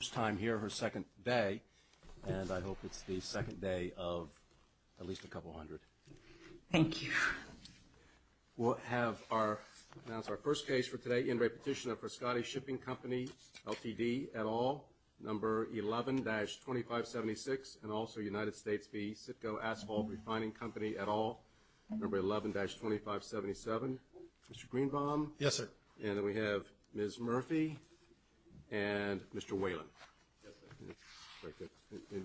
First time here her second day, and I hope it's the second day of at least a couple hundred Thank you We'll have our that's our first case for today in repetition of Frescati shipping company LTD at all number 11-25 76 and also United States be Citgo asphalt refining company at all number 11-25 77 mr. Greenbaum yes, sir, and then we have miss Murphy and Mr.. Whalen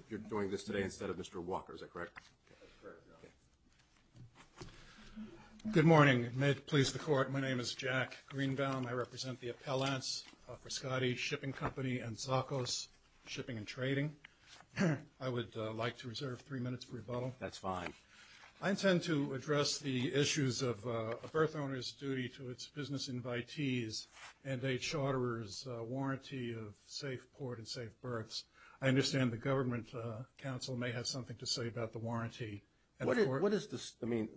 You're doing this today instead of mr.. Walker is that correct Good morning may it please the court. My name is Jack Greenbaum I represent the appellants for Scotty shipping company and Sakos shipping and trading I would like to reserve three minutes for rebuttal. That's fine I intend to address the issues of a birth owners duty to its business invitees and a charterers Warranty of safe port and safe berths. I understand the Government Council may have something to say about the warranty What is this I mean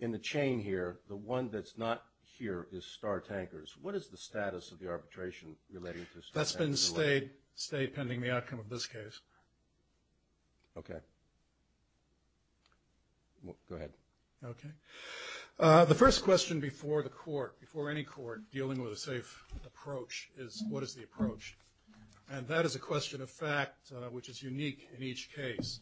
in the chain here the one that's not here is star tankers What is the status of the arbitration relating to that's been stayed stay pending the outcome of this case? Okay Go ahead okay The first question before the court before any court dealing with a safe approach is what is the approach And that is a question of fact which is unique in each case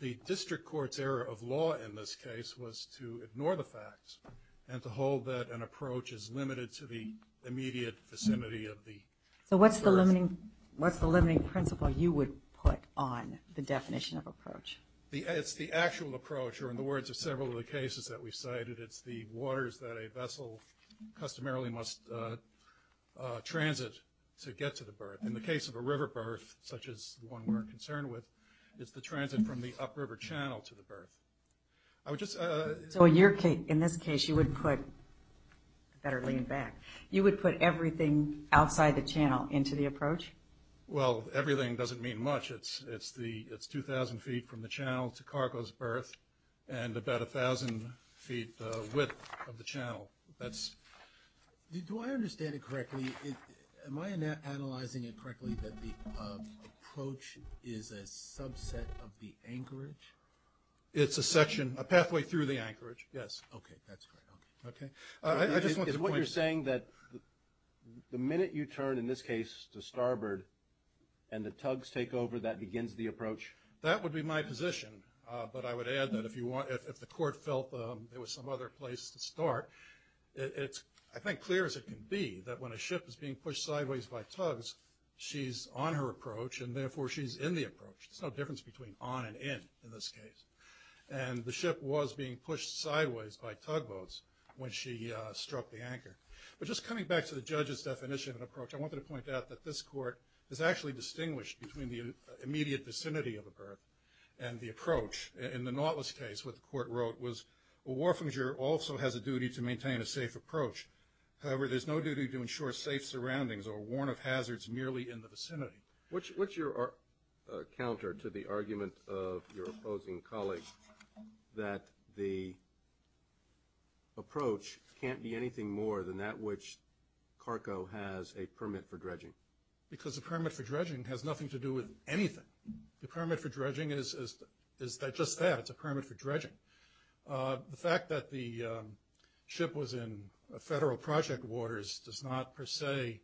the district courts error of law in this case was to ignore the facts and to hold that an approach is limited to the immediate vicinity of the so what's the limiting what's the limiting principle you would put on the definition of approach the It's the actual approach or in the words of several of the cases that we cited. It's the waters that a vessel customarily must Transit to get to the birth in the case of a river birth such as one we're concerned with It's the transit from the upper River Channel to the birth. I would just so in your case in this case you wouldn't put Better lean back you would put everything outside the channel into the approach well everything doesn't mean much It's it's the it's 2,000 feet from the channel to cargo's birth and about a thousand feet width of the channel that's You do I understand it correctly am I not analyzing it correctly that the? Approach is a subset of the anchorage It's a section a pathway through the anchorage. Yes, okay, that's great. Okay. I just want to what you're saying that The minute you turn in this case to starboard and the tugs take over that begins the approach that would be my position But I would add that if you want if the court felt there was some other place to start It's I think clear as it can be that when a ship is being pushed sideways by tugs She's on her approach and therefore she's in the approach It's no difference between on and in in this case and the ship was being pushed sideways by tugboats When she struck the anchor, but just coming back to the judge's definition of an approach I wanted to point out that this court is actually distinguished between the immediate vicinity of a birth and the approach in the Nautilus case What the court wrote was a war finger also has a duty to maintain a safe approach However, there's no duty to ensure safe surroundings or warn of hazards merely in the vicinity which what's your? counter to the argument of your opposing colleagues that the Approach can't be anything more than that which Cargo has a permit for dredging because the permit for dredging has nothing to do with anything The permit for dredging is is that just that it's a permit for dredging the fact that the Ship was in a federal project waters does not per se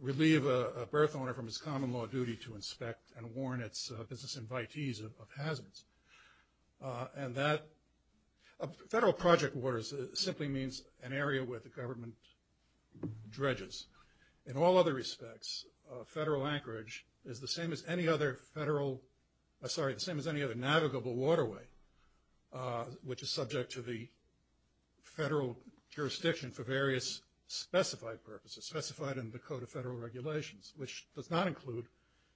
Relieve a birth owner from his common-law duty to inspect and warn its business invitees of hazards And that a federal project waters simply means an area where the government dredges in all other respects Federal anchorage is the same as any other federal Sorry the same as any other navigable waterway which is subject to the federal jurisdiction for various Specified purposes specified in the Code of Federal Regulations, which does not include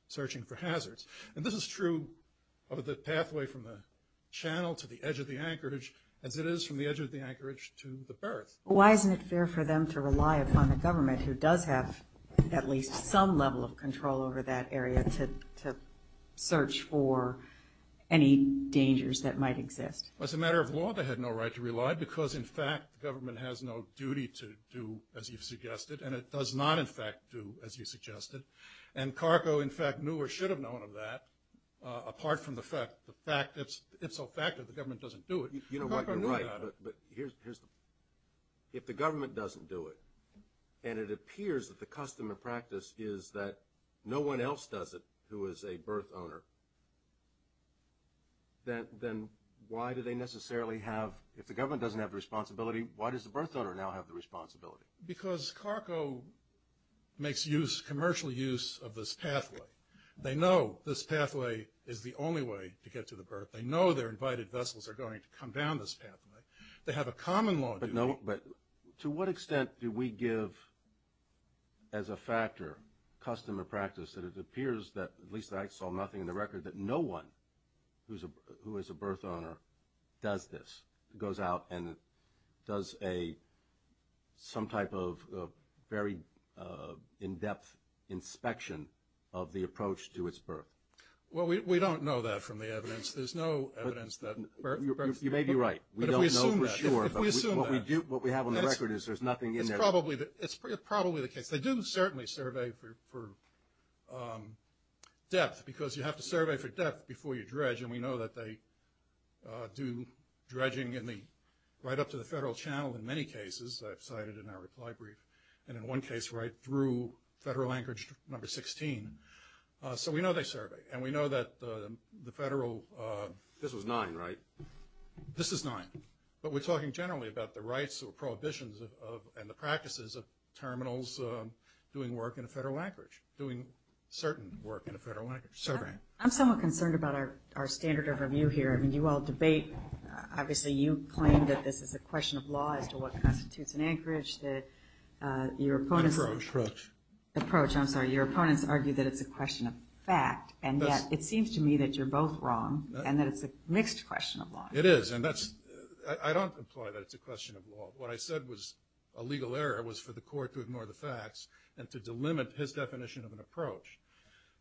Searching for hazards and this is true of the pathway from the Channel to the edge of the anchorage as it is from the edge of the anchorage to the birth Why isn't it fair for them to rely upon the government who does have at least some level of control over that area to? search for Any dangers that might exist as a matter of law They had no right to rely because in fact the government has no duty to do as you've suggested And it does not in fact do as you suggested and Cargo in fact knew or should have known of that Apart from the fact the fact it's it's a fact that the government doesn't do it. You know what you're right If the government doesn't do it and it appears that the custom and practice is that no one else does it who is a birth owner Then then why do they necessarily have if the government doesn't have the responsibility Why does the birth donor now have the responsibility? because Cargo Makes use commercial use of this pathway. They know this pathway is the only way to get to the birth They know they're invited vessels are going to come down this pathway. They have a common law, but no, but to what extent do we give? as a factor Custom or practice that it appears that at least I saw nothing in the record that no one Who's a who is a birth owner? Does this it goes out and does a some type of very in-depth Inspection of the approach to its birth. Well, we don't know that from the evidence. There's no evidence that You may be right What we have on the record is there's nothing in there probably that it's probably the case they didn't certainly survey for Depth because you have to survey for depth before you dredge and we know that they Do dredging in the right up to the federal channel in many cases? I've cited in our reply brief and in one case right through federal anchorage number 16 So we know they survey and we know that the federal this was nine, right? This is nine, but we're talking generally about the rights or prohibitions of and the practices of terminals Doing work in a federal anchorage doing certain work in a federal anchorage survey I'm somewhat concerned about our standard of review here. I mean you all debate obviously you claim that this is a question of law as to what constitutes an anchorage that Your opponent approach approach. I'm sorry Your opponents argue that it's a question of fact and yes It seems to me that you're both wrong and that it's a mixed question of law It is and that's I don't imply that it's a question of law What I said was a legal error was for the court to ignore the facts and to delimit his definition of an approach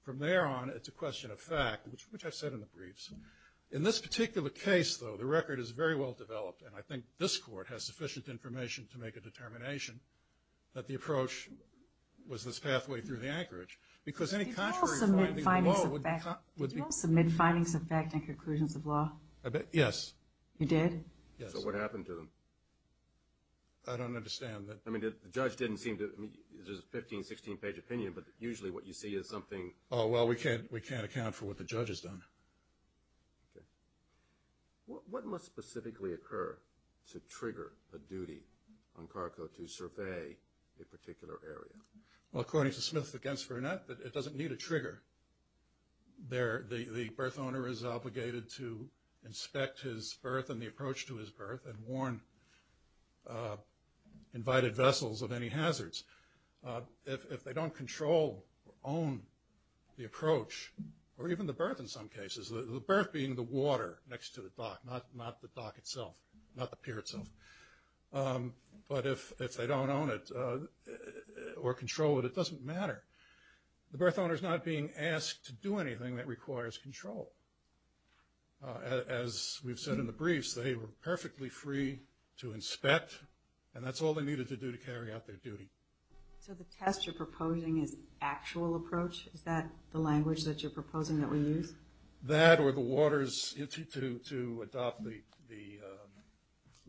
From there on it's a question of fact, which I've said in the briefs in this particular case, though The record is very well developed and I think this court has sufficient information to make a determination that the approach Was this pathway through the anchorage because any kind of a minute? I know that would be submit findings of fact and conclusions of law. Yes, you did. Yes, what happened to them? I Don't understand that. I mean the judge didn't seem to there's a 15 16 page opinion But usually what you see is something. Oh, well, we can't we can't account for what the judge has done What must specifically occur to trigger a duty on cargo to survey a particular area Well, according to Smith against Burnett, but it doesn't need a trigger There the the birth owner is obligated to inspect his birth and the approach to his birth and warn Invited vessels of any hazards If they don't control own The approach or even the birth in some cases the birth being the water next to the dock not not the dock itself Not the pier itself But if if they don't own it Or control it. It doesn't matter. The birth owner is not being asked to do anything that requires control As we've said in the briefs they were perfectly free to inspect and that's all they needed to do to carry out their duty So the test you're proposing is actual approach. Is that the language that you're proposing that we use that or the waters? to adopt the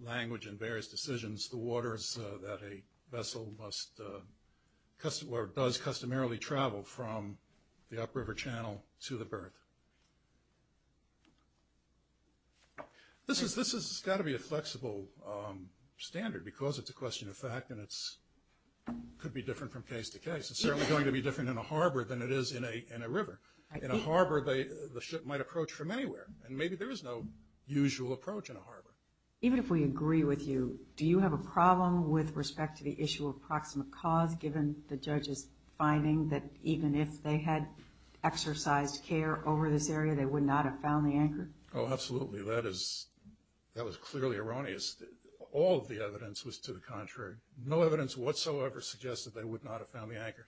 Language and various decisions the waters that a vessel must Customer does customarily travel from the upriver Channel to the birth This is this has got to be a flexible standard because it's a question of fact and it's Could be different from case to case It's certainly going to be different in a harbor than it is in a in a river In a harbor, they the ship might approach from anywhere and maybe there is no usual approach in a harbor Even if we agree with you Do you have a problem with respect to the issue of proximate cause given the judge's finding that even if they had? Exercised care over this area. They would not have found the anchor. Oh, absolutely. That is That was clearly erroneous all of the evidence was to the contrary no evidence whatsoever Suggested they would not have found the anchor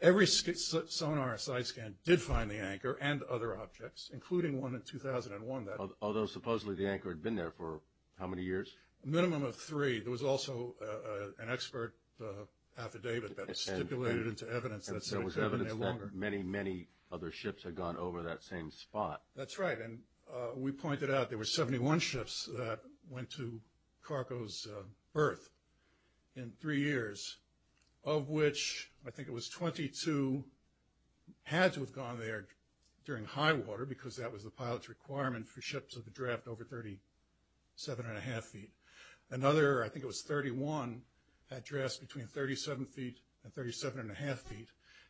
Every skit sonar site scan did find the anchor and other objects including one in 2001 That although supposedly the anchor had been there for how many years a minimum of three. There was also an expert Affidavit, but it's stipulated into evidence. That's evidence that many many other ships had gone over that same spot That's right. And we pointed out there were 71 ships that went to Cargo's birth in three years of which I think it was 22 Had to have gone there during high water because that was the pilots requirement for ships of the draft over thirty seven and a half feet another I think it was 31 had dressed between 37 feet and 37 and a half feet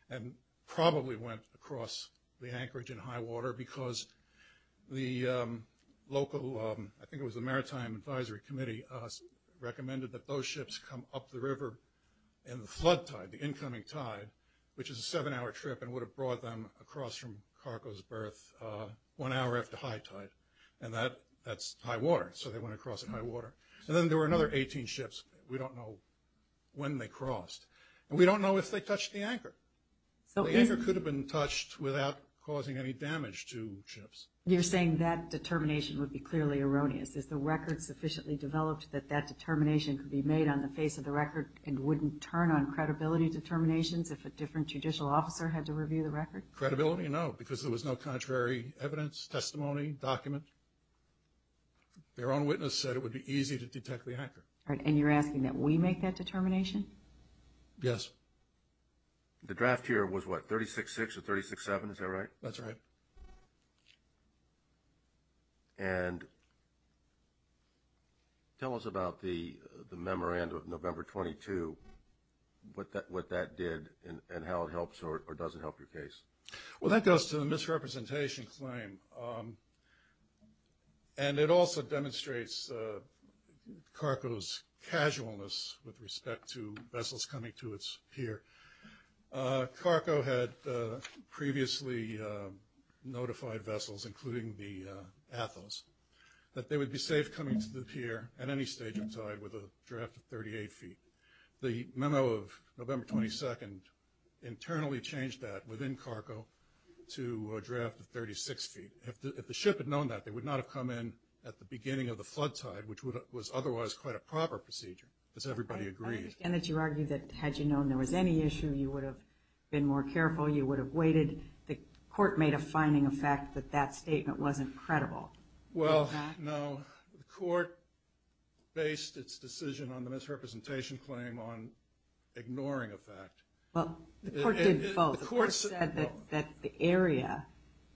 and Probably went across the anchorage in high water because the Local, I think it was the Maritime Advisory Committee Recommended that those ships come up the river and the flood tide the incoming tide Which is a seven-hour trip and would have brought them across from Cargo's birth One hour after high tide and that that's high water. So they went across in my water So then there were another 18 ships. We don't know When they crossed and we don't know if they touched the anchor So the anchor could have been touched without causing any damage to ships You're saying that determination would be clearly erroneous is the record Sufficiently developed that that determination could be made on the face of the record and wouldn't turn on credibility Determinations if a different judicial officer had to review the record credibility, you know, because there was no contrary evidence testimony document Their own witness said it would be easy to detect the anchor and you're asking that we make that determination. Yes The draft here was what 36 6 or 36 7, is that right? That's right And Tell us about the the memorandum of November 22 But that what that did and how it helps or doesn't help your case. Well that goes to the misrepresentation claim and it also demonstrates Cargo's casualness with respect to vessels coming to its here Cargo had previously Notified vessels including the Athos that they would be safe coming to the pier at any stage inside with a draft of 38 feet the memo of November 22nd Internally changed that within Cargo to a draft of 36 feet If the ship had known that they would not have come in at the beginning of the flood tide Which was otherwise quite a proper procedure as everybody agrees and that you argue that had you known there was any issue you would have? Been more careful. You would have waited the court made a finding of fact that that statement wasn't credible. Well, no court based its decision on the misrepresentation claim on Ignoring a fact. Well That the area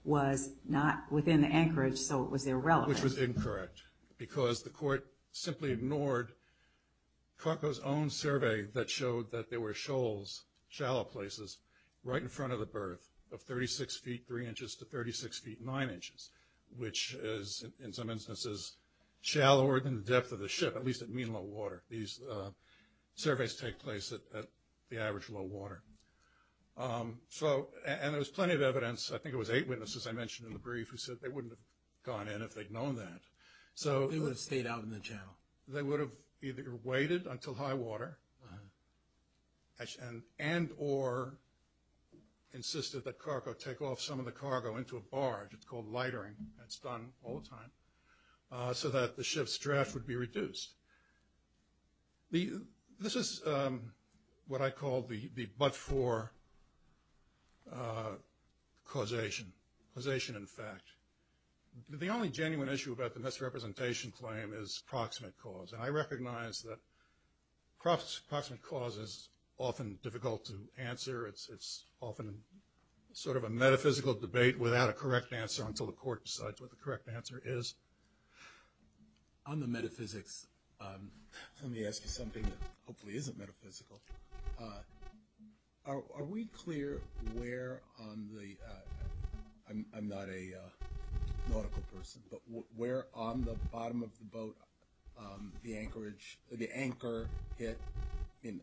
Was not within the anchorage. So it was irrelevant was incorrect because the court simply ignored Cargo's own survey that showed that there were shoals Shallow places right in front of the berth of 36 feet 3 inches to 36 feet 9 inches Which is in some instances? Shallower than the depth of the ship at least at mean low water these Surveys take place at the average low water So and there was plenty of evidence I think it was eight witnesses I mentioned in the brief who said they wouldn't have gone in if they'd known that So they would have stayed out in the channel. They would have either waited until high water And and or Insisted that cargo take off some of the cargo into a barge. It's called lightering. It's done all the time So that the ship's draft would be reduced the this is What I call the the but for Causation causation in fact the only genuine issue about the misrepresentation claim is proximate cause and I recognize that Cross approximate cause is often difficult to answer. It's it's often Sort of a metaphysical debate without a correct answer until the court decides what the correct answer is on the metaphysics Let me ask you something that hopefully isn't metaphysical Are we clear where on the I'm not a Nautical person, but we're on the bottom of the boat The anchorage the anchor hit in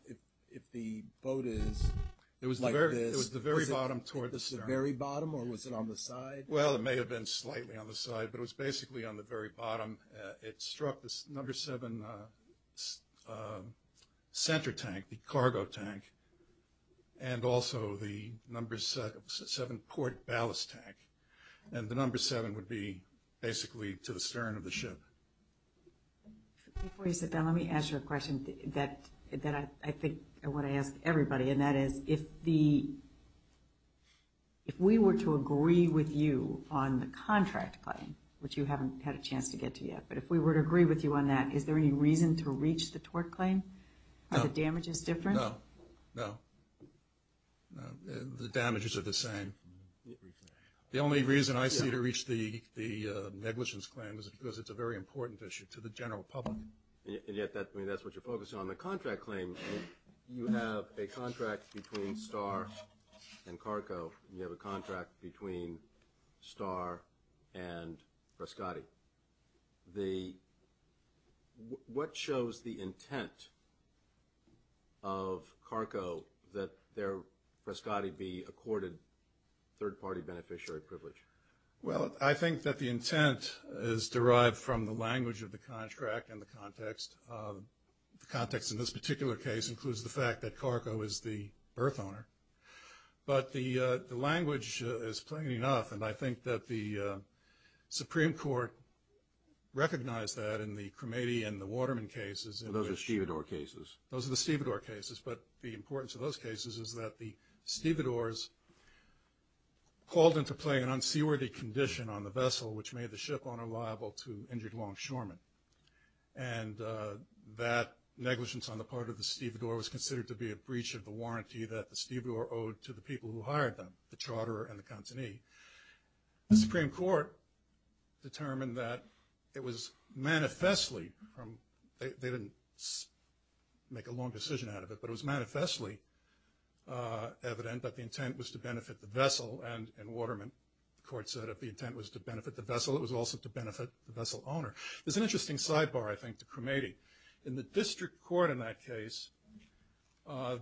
if the boat is it was like this It was the very bottom towards the very bottom or was it on the side? Well, it may have been slightly on the side, but it was basically on the very bottom It struck this number seven Center tank the cargo tank and Also, the number seven port ballast tank and the number seven would be basically to the stern of the ship Before you sit down, let me ask you a question that that I think I want to ask everybody and that is if the If we were to agree with you on the contract claim, which you haven't had a chance to get to yet But if we were to agree with you on that, is there any reason to reach the tort claim? The damage is different. No, no The damages are the same the only reason I see to reach the the Negligence claim is because it's a very important issue to the general public Yet that that's what you're focusing on the contract claim You have a contract between star and Carco you have a contract between star and Prescotti the What shows the intent of Carco that their Prescotti be accorded third-party beneficiary privilege Well, I think that the intent is derived from the language of the contract and the context The context in this particular case includes the fact that Carco is the birth owner But the the language is plain enough and I think that the Supreme Court Recognized that in the cremated and the Waterman cases and those are stevedore cases Those are the stevedore cases, but the importance of those cases is that the stevedores? Called into play an unseaworthy condition on the vessel which made the ship owner liable to injured longshoremen and That negligence on the part of the stevedore was considered to be a breach of the warranty that the stevedore owed to the people who Hired them the Charter and the company the Supreme Court Determined that it was manifestly from they didn't Make a long decision out of it, but it was manifestly Evident that the intent was to benefit the vessel and in Waterman The court said if the intent was to benefit the vessel it was also to benefit the vessel owner There's an interesting sidebar. I think the cremating in the district court in that case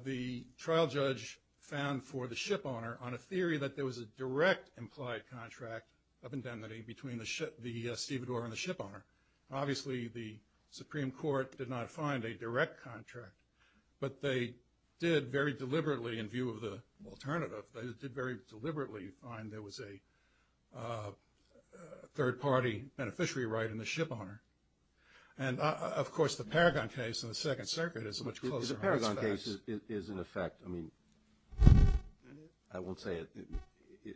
the trial judge found for the ship owner on a theory that there was a direct implied contract of indemnity between the ship the stevedore and the ship owner obviously the Supreme Court did not find a direct contract, but they did very deliberately in view of the alternative they did very deliberately find there was a Third party beneficiary right in the ship owner and Of course the Paragon case in the Second Circuit is much closer. The Paragon case is in effect. I mean I Won't say it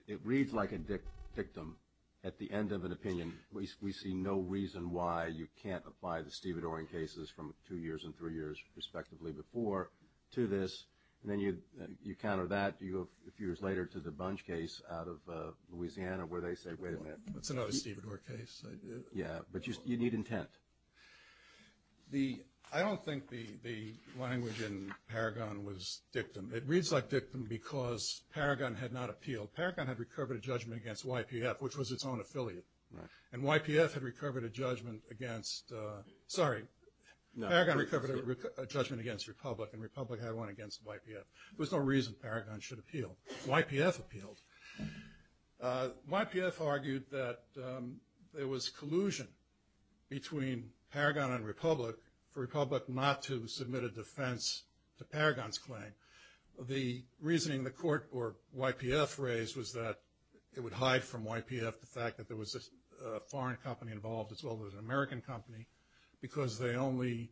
It reads like a dick victim at the end of an opinion We see no reason why you can't apply the stevedore in cases from two years and three years respectively before to this and then you you counter that you have a few years later to the bunch case out of Louisiana where they say wait a minute. That's another stevedore case. Yeah, but you need intent The I don't think the the language in Paragon was dictum It reads like dictum because Paragon had not appealed Paragon had recovered a judgment against YPF Which was its own affiliate right and YPF had recovered a judgment against? Sorry, no, I got recovered a judgment against Republic and Republic had one against YPF There's no reason Paragon should appeal YPF appealed YPF argued that there was collusion between Paragon and Republic for Republic not to submit a defense to Paragon's claim the reasoning the court or YPF raised was that it would hide from YPF the fact that there was a Foreign company involved as well as an American company because they only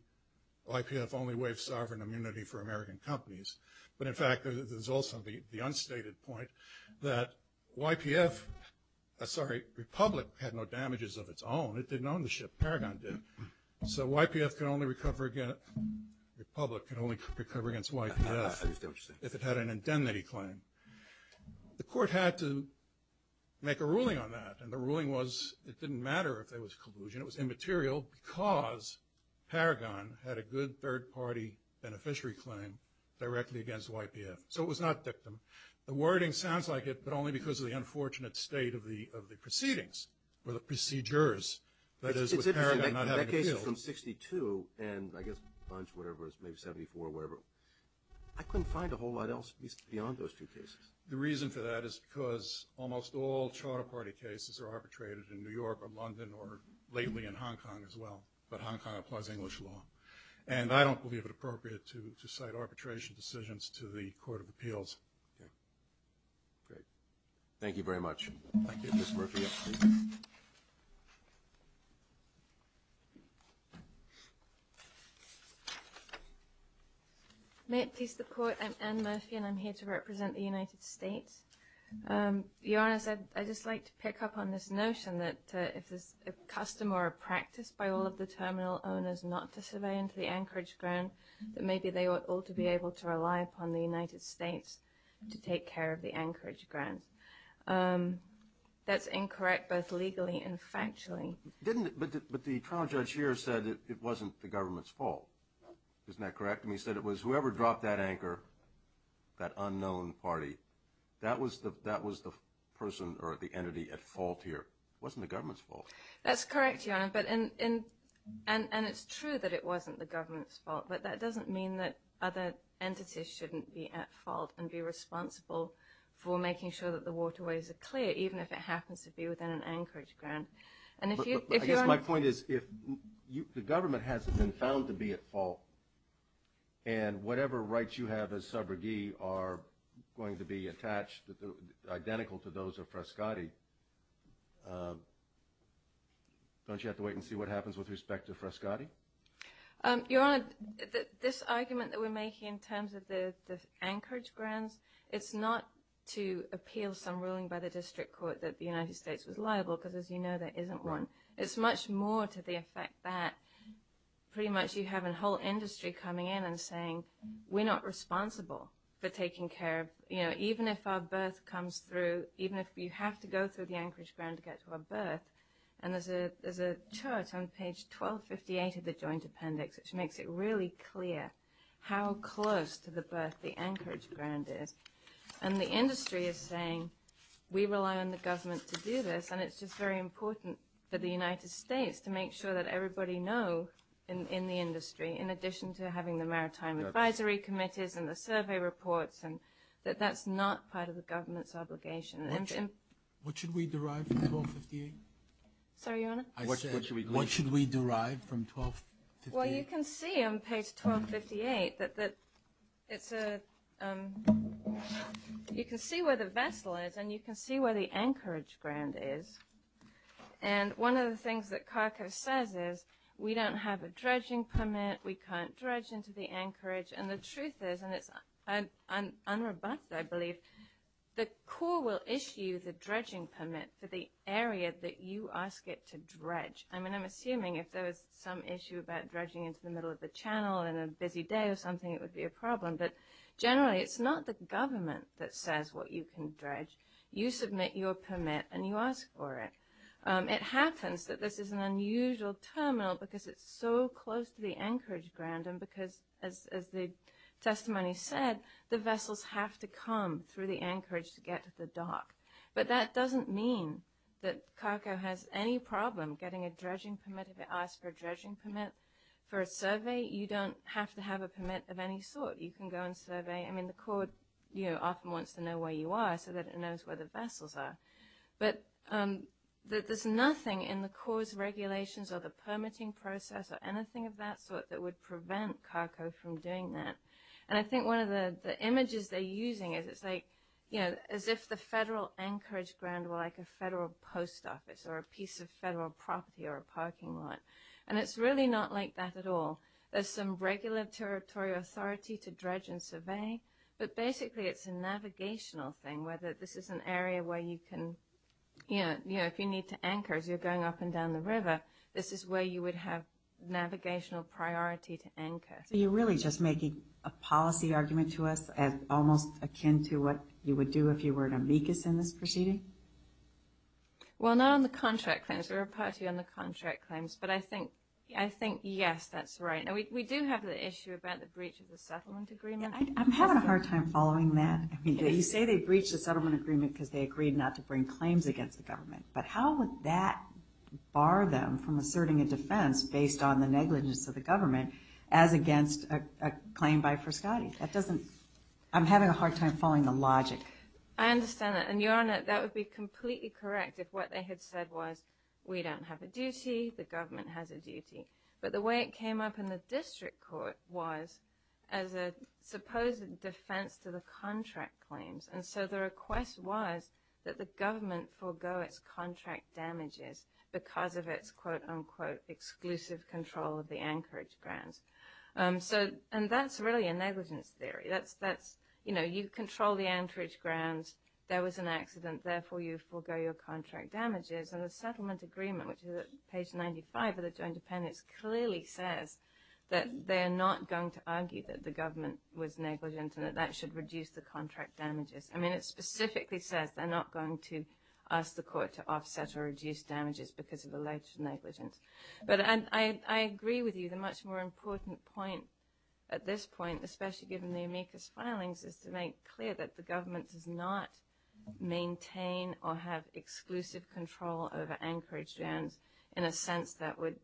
YPF only waived sovereign immunity for American companies But in fact, there's also the the unstated point that YPF Sorry Republic had no damages of its own. It didn't own the ship Paragon did so YPF can only recover again Republic can only recover against YPF if it had an indemnity claim the court had to Make a ruling on that and the ruling was it didn't matter if there was collusion. It was immaterial because Paragon had a good third-party Beneficiary claim directly against YPF So it was not victim the wording sounds like it but only because of the unfortunate state of the of the proceedings or the procedures that is 62 and I guess whatever is maybe 74 wherever I Couldn't find a whole lot else beyond those two cases the reason for that is because almost all Charter Party cases are arbitrated in New York or London or Lately in Hong Kong as well, but Hong Kong applies English law, and I don't believe it appropriate to cite arbitration decisions to the court of appeals Thank you very much May it please the court and Murphy and I'm here to represent the United States Your honor said I just like to pick up on this notion that if there's a Custom or a practice by all of the terminal owners not to survey into the Anchorage ground That maybe they ought all to be able to rely upon the United States to take care of the Anchorage grounds That's incorrect both legally and factually didn't but the trial judge here said it wasn't the government's fault Isn't that correct? And he said it was whoever dropped that anchor That unknown party that was the that was the person or the entity at fault here wasn't the government's fault That's correct. Yeah, but in in and and it's true that it wasn't the government's fault But that doesn't mean that other entities shouldn't be at fault and be responsible For making sure that the waterways are clear even if it happens to be within an Anchorage ground and if you if my point is if you the government hasn't been found to be at fault and Whatever rights you have as subrogate are going to be attached that they're identical to those of Frescotti Don't you have to wait and see what happens with respect to Frescotti Your honor this argument that we're making in terms of the Anchorage grounds It's not to appeal some ruling by the district court that the United States was liable because as you know There isn't one it's much more to the effect that Pretty much you have a whole industry coming in and saying we're not responsible for taking care of you know Even if our birth comes through even if you have to go through the Anchorage ground to get to a birth And there's a there's a chart on page 1258 of the joint appendix which makes it really clear how close to the birth the Anchorage ground is and the industry is saying We rely on the government to do this and it's just very important that the United States to make sure that everybody know In the industry in addition to having the maritime advisory committees and the survey reports and that that's not part of the government's obligation and What should we derive? Sorry, what should we derive from 12? Well, you can see on page 1258 that that it's a You can see where the vessel is and you can see where the Anchorage ground is and One of the things that Carco says is we don't have a dredging permit We can't dredge into the Anchorage and the truth is and it's an unrobust I believe The Corps will issue the dredging permit for the area that you ask it to dredge I mean, I'm assuming if there was some issue about dredging into the middle of the channel and a busy day or something It would be a problem, but generally it's not the government that says what you can dredge You submit your permit and you ask for it it happens that this is an unusual terminal because it's so close to the Anchorage ground and because as the Testimony said the vessels have to come through the Anchorage to get to the dock But that doesn't mean that Carco has any problem getting a dredging permit if it asked for a dredging permit For a survey you don't have to have a permit of any sort you can go and survey I mean the Corps you know often wants to know where you are so that it knows where the vessels are but That there's nothing in the Corps regulations or the permitting process or anything of that sort that would prevent Carco from doing that and I think one of the the images they're using is it's like you know as if the federal Anchorage ground were like a federal post office or a piece of federal property or a Parking lot and it's really not like that at all There's some regular territory authority to dredge and survey, but basically it's a navigational thing whether this is an area where you can You know you know if you need to anchor as you're going up and down the river. This is where you would have navigational priority to anchor You're really just making a policy argument to us and almost akin to what you would do if you were an amicus in this proceeding Well now on the contract claims we're a party on the contract claims, but I think I think yes, that's right No, we do have the issue about the breach of the settlement agreement I'm having a hard time following that you say they breached the settlement agreement because they agreed not to bring claims against the government but how would that bar them from asserting a defense based on the negligence of the government as Against a claim by Friscati that doesn't I'm having a hard time following the logic Understand that and you're on it that would be completely correct if what they had said was we don't have a duty the government has a duty, but the way it came up in the district court was as a Supposed defense to the contract claims and so the request was that the government forgo its contract Damages because of its quote-unquote exclusive control of the anchorage grounds So and that's really a negligence theory, that's that's you know, you control the anchorage grounds there was an accident Therefore you forgo your contract damages and the settlement agreement which is at page 95 of the Joint Dependents Clearly says that they are not going to argue that the government was negligent and that that should reduce the contract damages I mean it specifically says they're not going to ask the court to offset or reduce damages because of alleged negligence But I Agree with you the much more important point at this point, especially given the amicus filings is to make clear that the government does not maintain or have exclusive control over anchorage jams in a sense that would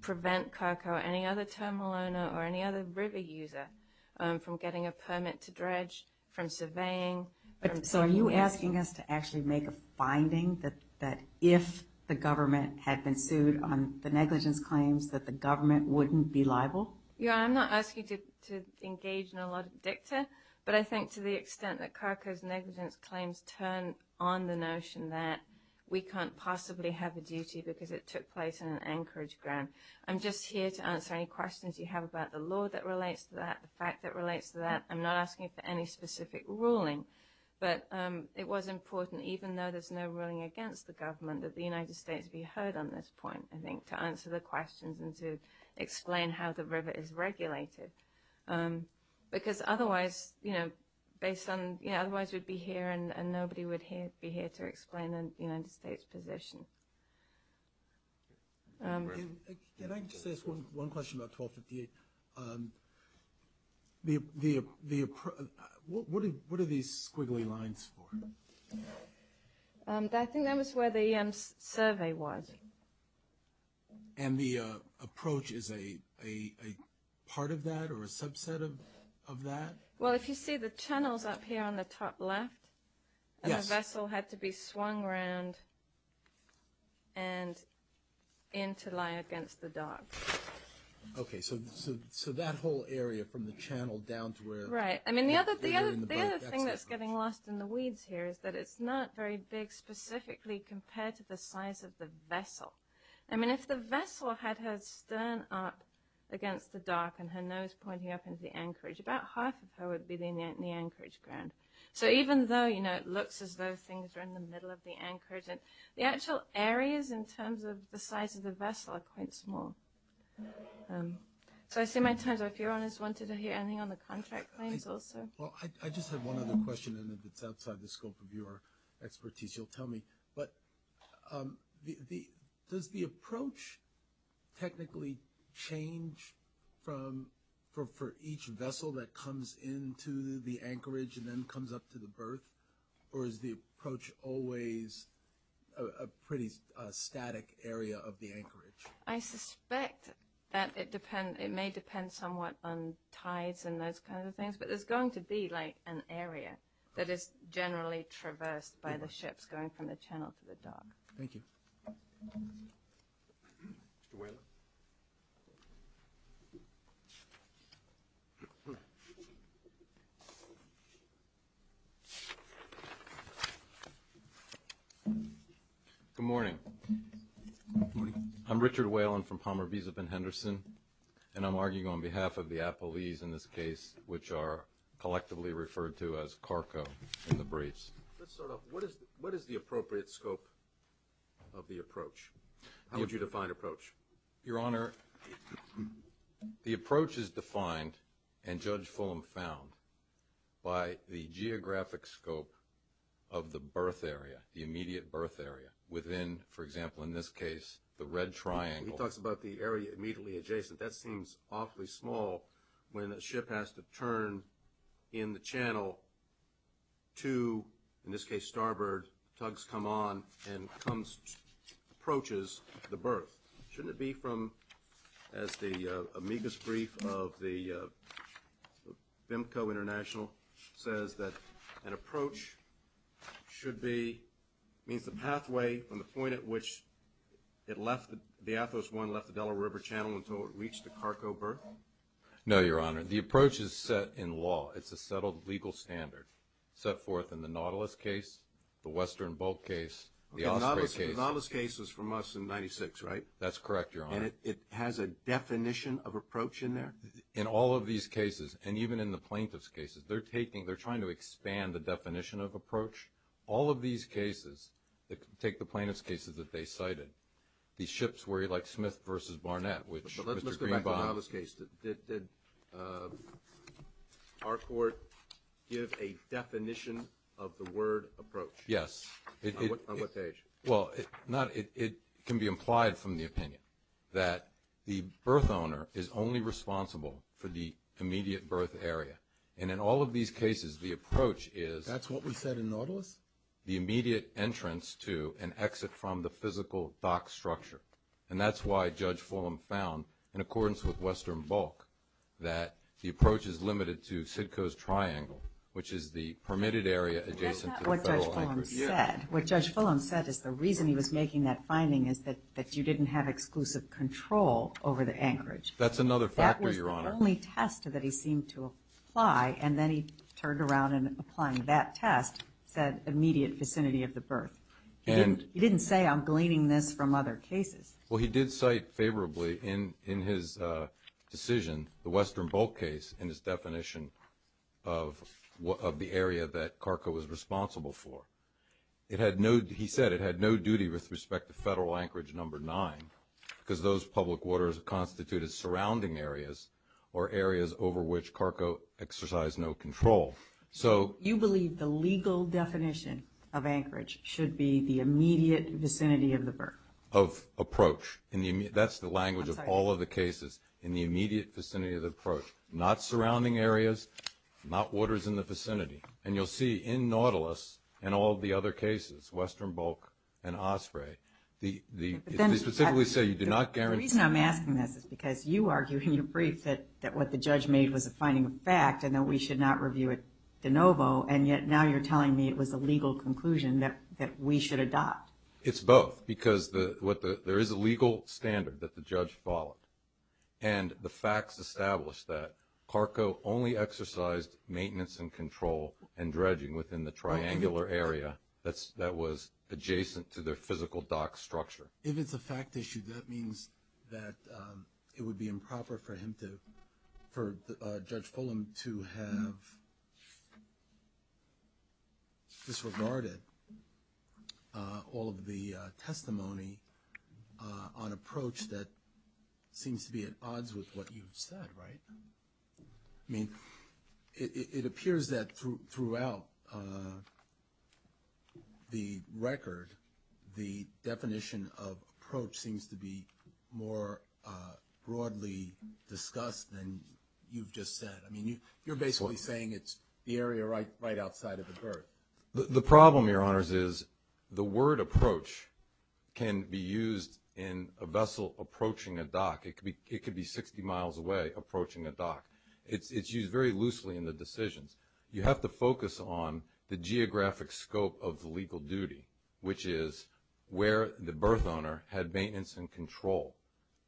Prevent Karko any other terminal owner or any other river user from getting a permit to dredge from surveying So are you asking us to actually make a Finding that that if the government had been sued on the negligence claims that the government wouldn't be liable Yeah, I'm not asking to engage in a lot of dicta but I think to the extent that Karko's negligence claims turn on the notion that We can't possibly have a duty because it took place in an anchorage ground I'm just here to answer any questions you have about the law that relates to that the fact that relates to that I'm not asking for any specific ruling But it was important even though there's no ruling against the government that the United States be heard on this point I think to answer the questions and to explain how the river is regulated Because otherwise, you know based on you know, otherwise we'd be here and nobody would hear be here to explain the United States position I Just asked one question about 1258 The the the What are these squiggly lines for? I think that was where the survey was and the approach is a Part of that or a subset of of that. Well, if you see the channels up here on the top left Yes, I still had to be swung around And Into lie against the dark Okay, so so that whole area from the channel down to where right? I mean the other thing that's getting lost in the weeds here is that it's not very big Specifically compared to the size of the vessel. I mean if the vessel had her stern up Against the dock and her nose pointing up into the anchorage about half of her would be the in the anchorage ground So even though you know It looks as though things are in the middle of the anchorage and the actual areas in terms of the size of the vessel are quite small So I see my turn so if your honors wanted to hear anything on the contract claims also well, I just have one other question and if it's outside the scope of your expertise, you'll tell me but The the does the approach technically change From For each vessel that comes into the anchorage and then comes up to the berth or is the approach always a? pretty static area of the anchorage I Suspect that it depend it may depend somewhat on tides and those kind of things But there's going to be like an area that is generally traversed by the ships going from the channel to the dock. Thank you Good Morning I'm Richard Whalen from Palmer visa Ben Henderson And I'm arguing on behalf of the Apple ease in this case, which are collectively referred to as Carco in the briefs What is the appropriate scope of the approach? How would you define approach your honor? The approach is defined and judge Fulham found by the geographic scope of The birth area the immediate birth area within for example in this case the red triangle He talks about the area immediately adjacent that seems awfully small when a ship has to turn in the channel to in this case starboard tugs come on and comes Approaches the birth shouldn't it be from as the amicus brief of the BIMCO international says that an approach should be means the pathway from the point at which It left the Athos one left the Delaware River Channel until it reached the Carco birth No, your honor the approach is set in law It's a settled legal standard set forth in the Nautilus case the Western Bulk case We are not as cases from us in 96, right? That's correct You're on it has a definition of approach in there in all of these cases and even in the plaintiffs cases They're taking they're trying to expand the definition of approach all of these cases That take the plaintiffs cases that they cited these ships were like Smith versus Barnett, which let's look at this case Did Our court give a definition of the word approach yes Well, it's not it can be implied from the opinion that the birth owner is only responsible for the Immediate birth area and in all of these cases the approach is that's what we said in Nautilus The immediate entrance to an exit from the physical dock structure And that's why judge Fulham found in accordance with Western Bulk that the approach is limited to Sitka's triangle Which is the permitted area? What judge Fulham said is the reason he was making that finding is that that you didn't have exclusive control over the anchorage That's another factor your honor only test that he seemed to apply and then he turned around and applying that test Said immediate vicinity of the birth and he didn't say I'm gleaning this from other cases well, he did cite favorably in in his decision the Western Bulk case in his definition of What of the area that Carco was responsible for? It had no he said it had no duty with respect to federal anchorage number nine Because those public waters constituted surrounding areas or areas over which Carco exercised no control So you believe the legal definition of anchorage should be the immediate vicinity of the birth of Approach and that's the language of all of the cases in the immediate vicinity of the approach not surrounding areas not waters in the vicinity and you'll see in Nautilus and all the other cases Western Bulk and Osprey the Specifically say you do not guarantee I'm asking this is because you argue in your brief that that what the judge made was a finding of fact and that we should Not review it de novo and yet now you're telling me it was a legal conclusion that that we should adopt it's both because the what the there is a legal standard that the judge followed and the facts established that Carco only exercised maintenance and control and dredging within the triangular area that's that was adjacent to their physical doc structure if it's a fact issue that means that It would be improper for him to Judge Fulham to have Disregarded all of the testimony on approach that Seems to be at odds with what you've said, right? I mean It appears that through throughout The record the definition of approach seems to be more broadly Discussed and you've just said I mean you you're basically saying it's the area right right outside of the birth The problem your honors is the word approach Can be used in a vessel approaching a dock. It could be it could be 60 miles away approaching a dock It's it's used very loosely in the decisions. You have to focus on the geographic scope of the legal duty, which is Where the birth owner had maintenance and control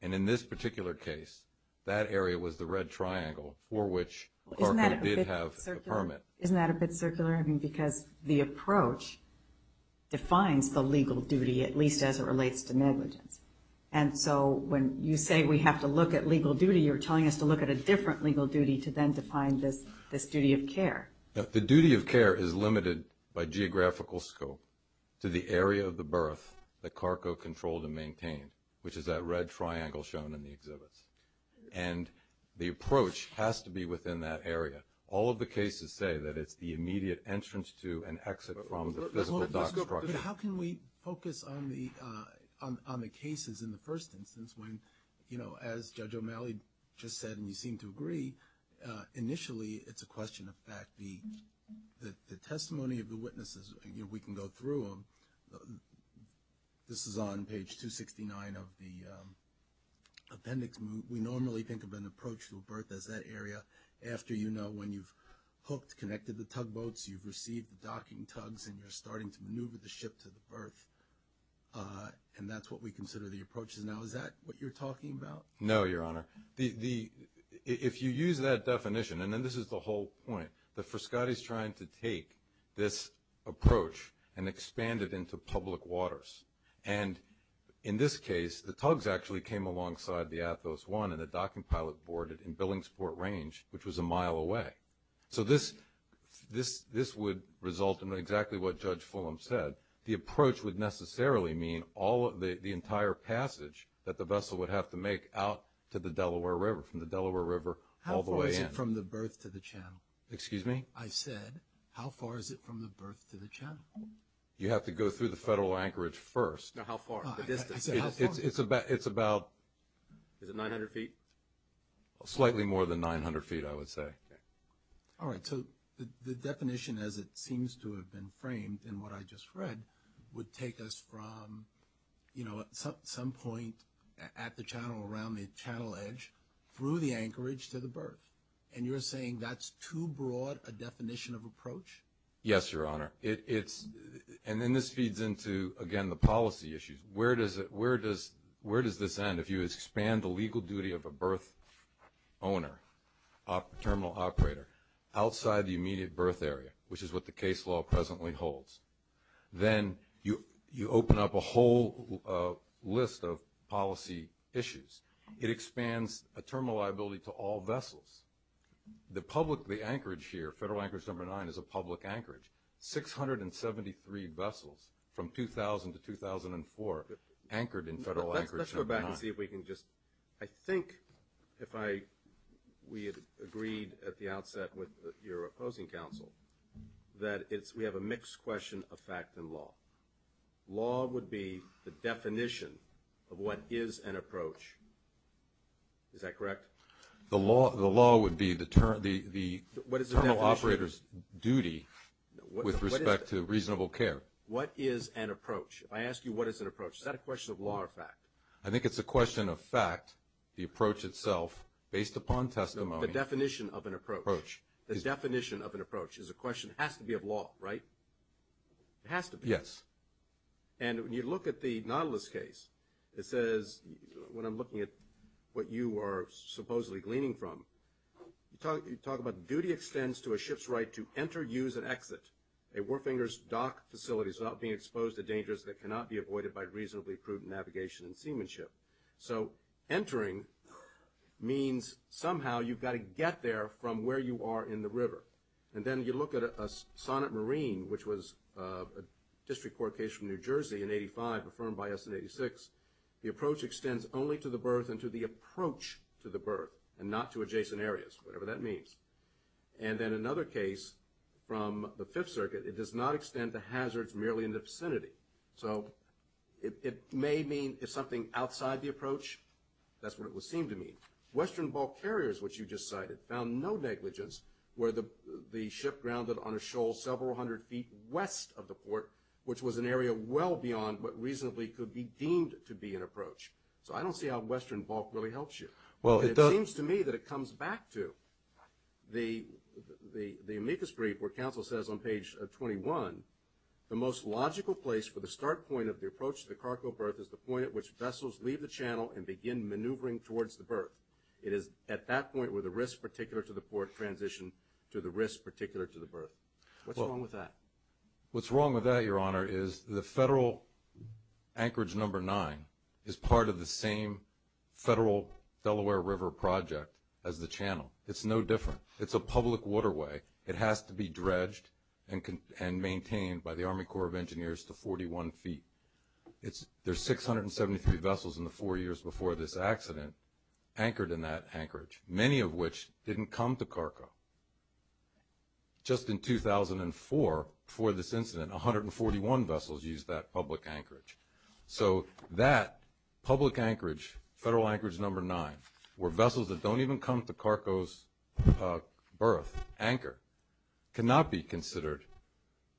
and in this particular case that area was the red triangle for which Isn't that a bit circular I mean because the approach Defines the legal duty at least as it relates to negligence And so when you say we have to look at legal duty You're telling us to look at a different legal duty to then define this this duty of care The duty of care is limited by geographical scope to the area of the birth that Carco controlled and maintained which is that red triangle shown in the exhibits and The approach has to be within that area all of the cases say that it's the immediate entrance to an exit How can we focus on the on the cases in the first instance when you know as judge O'Malley? Just said and you seem to agree Initially it's a question of fact the the testimony of the witnesses we can go through them this is on page 269 of the Appendix we normally think of an approach to a birth as that area after you know when you've hooked connected the tugboats You've received the docking tugs and you're starting to maneuver the ship to the birth And that's what we consider the approaches now. Is that what you're talking about? No, your honor the the if you use that definition and then this is the whole point that for Scottie's trying to take this approach and expand it into public waters and In this case the tugs actually came alongside the Athos one and the docking pilot boarded in Billingsport range Which was a mile away so this This this would result in exactly what judge Fulham said the approach would necessarily Mean all of the entire passage that the vessel would have to make out to the Delaware River from the Delaware River How far is it from the birth to the channel? Excuse me? I said how far is it from the birth to the channel? You have to go through the federal anchorage first It's about it's about 900 feet Slightly more than 900 feet. I would say All right The definition as it seems to have been framed and what I just read would take us from You know at some point at the channel around the channel edge Through the anchorage to the birth and you're saying that's too broad a definition of approach. Yes, your honor It's and then this feeds into again the policy issues. Where does it? Where does where does this end if you expand the legal duty of a birth? owner Terminal operator outside the immediate birth area, which is what the case law presently holds Then you you open up a whole List of policy issues. It expands a terminal liability to all vessels The public the anchorage here federal anchorage number nine is a public anchorage 673 vessels from 2000 to 2004 anchored in federal anchorage, I think if I We had agreed at the outset with your opposing counsel that it's we have a mixed question of fact in law Law would be the definition of what is an approach? Is that correct? The law the law would be the term the the what is the operators duty? With respect to reasonable care. What is an approach? I ask you what is an approach? Is that a question of law or fact? I think it's a question of fact the approach itself based upon testimony the definition of an approach The definition of an approach is a question has to be of law, right? It has to be yes, and When you look at the Nautilus case, it says when I'm looking at what you are supposedly gleaning from You talk you talk about duty extends to a ship's right to enter use and exit a war fingers dock Facilities not being exposed to dangers that cannot be avoided by reasonably prudent navigation and seamanship. So entering means somehow you've got to get there from where you are in the river and then you look at a sonnet marine, which was a District Court case from New Jersey in 85 affirmed by us in 86 the approach extends only to the birth and to the approach to the birth and not to adjacent areas, whatever that means and Then another case from the Fifth Circuit. It does not extend to hazards merely in the vicinity So it may mean if something outside the approach That's what it would seem to me Western bulk carriers Which you just cited found no negligence where the the ship grounded on a shoal several hundred feet west of the port Which was an area well beyond what reasonably could be deemed to be an approach So I don't see how Western bulk really helps you. Well, it seems to me that it comes back to The the the amicus brief where counsel says on page 21 the most logical place for the start point of the approach to the cargo berth is the point at which Vessels leave the channel and begin maneuvering towards the berth It is at that point where the risk particular to the port transition to the risk particular to the berth What's wrong with that? What's wrong with that? Your honor is the federal Anchorage number nine is part of the same Federal Delaware River project as the channel. It's no different. It's a public waterway It has to be dredged and can and maintained by the Army Corps of Engineers to 41 feet It's there's 673 vessels in the four years before this accident Anchored in that anchorage many of which didn't come to Carco Just in 2004 for this incident 141 vessels used that public anchorage So that public anchorage federal anchorage number nine were vessels that don't even come to Carco's berth anchor Cannot be considered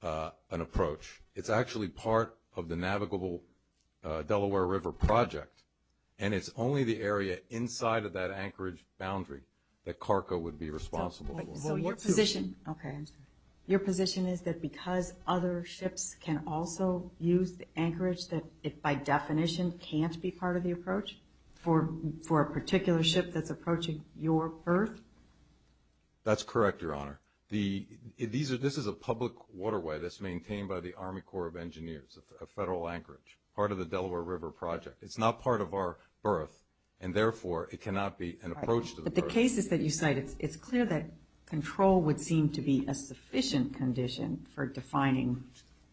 An approach it's actually part of the navigable Delaware River project and it's only the area inside of that anchorage boundary that Carco would be responsible Position okay Your position is that because other ships can also use the anchorage that it by definition Can't be part of the approach for for a particular ship. That's approaching your birth That's correct. Your honor the these are this is a public waterway That's maintained by the Army Corps of Engineers a federal anchorage part of the Delaware River project It's not part of our birth and therefore it cannot be an approach to the cases that you cite It's clear that control would seem to be a sufficient condition for defining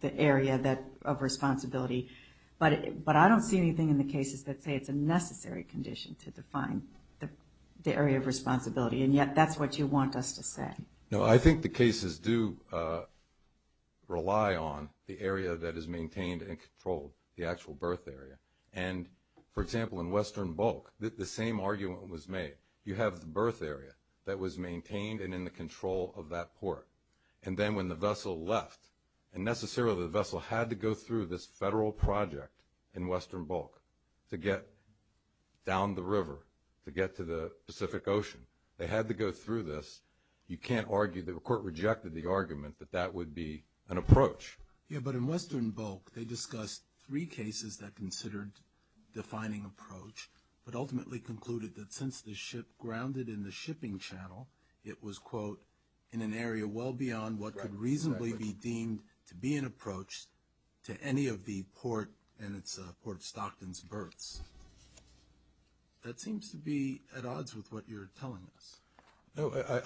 the area that of responsibility But but I don't see anything in the cases that say it's a necessary condition to define the the area of responsibility And yet that's what you want us to say. No, I think the cases do rely on the area that is maintained and controlled the actual birth area and For example in Western Bulk that the same argument was made you have the birth area that was maintained and in the control of that port And then when the vessel left and necessarily the vessel had to go through this federal project in Western Bulk to get Down the river to get to the Pacific Ocean. They had to go through this You can't argue that were court rejected the argument that that would be an approach. Yeah, but in Western Bulk Discussed three cases that considered Defining approach but ultimately concluded that since the ship grounded in the shipping channel It was quote in an area well beyond what could reasonably be deemed to be an approach To any of the port and it's a port of Stockton's births That seems to be at odds with what you're telling us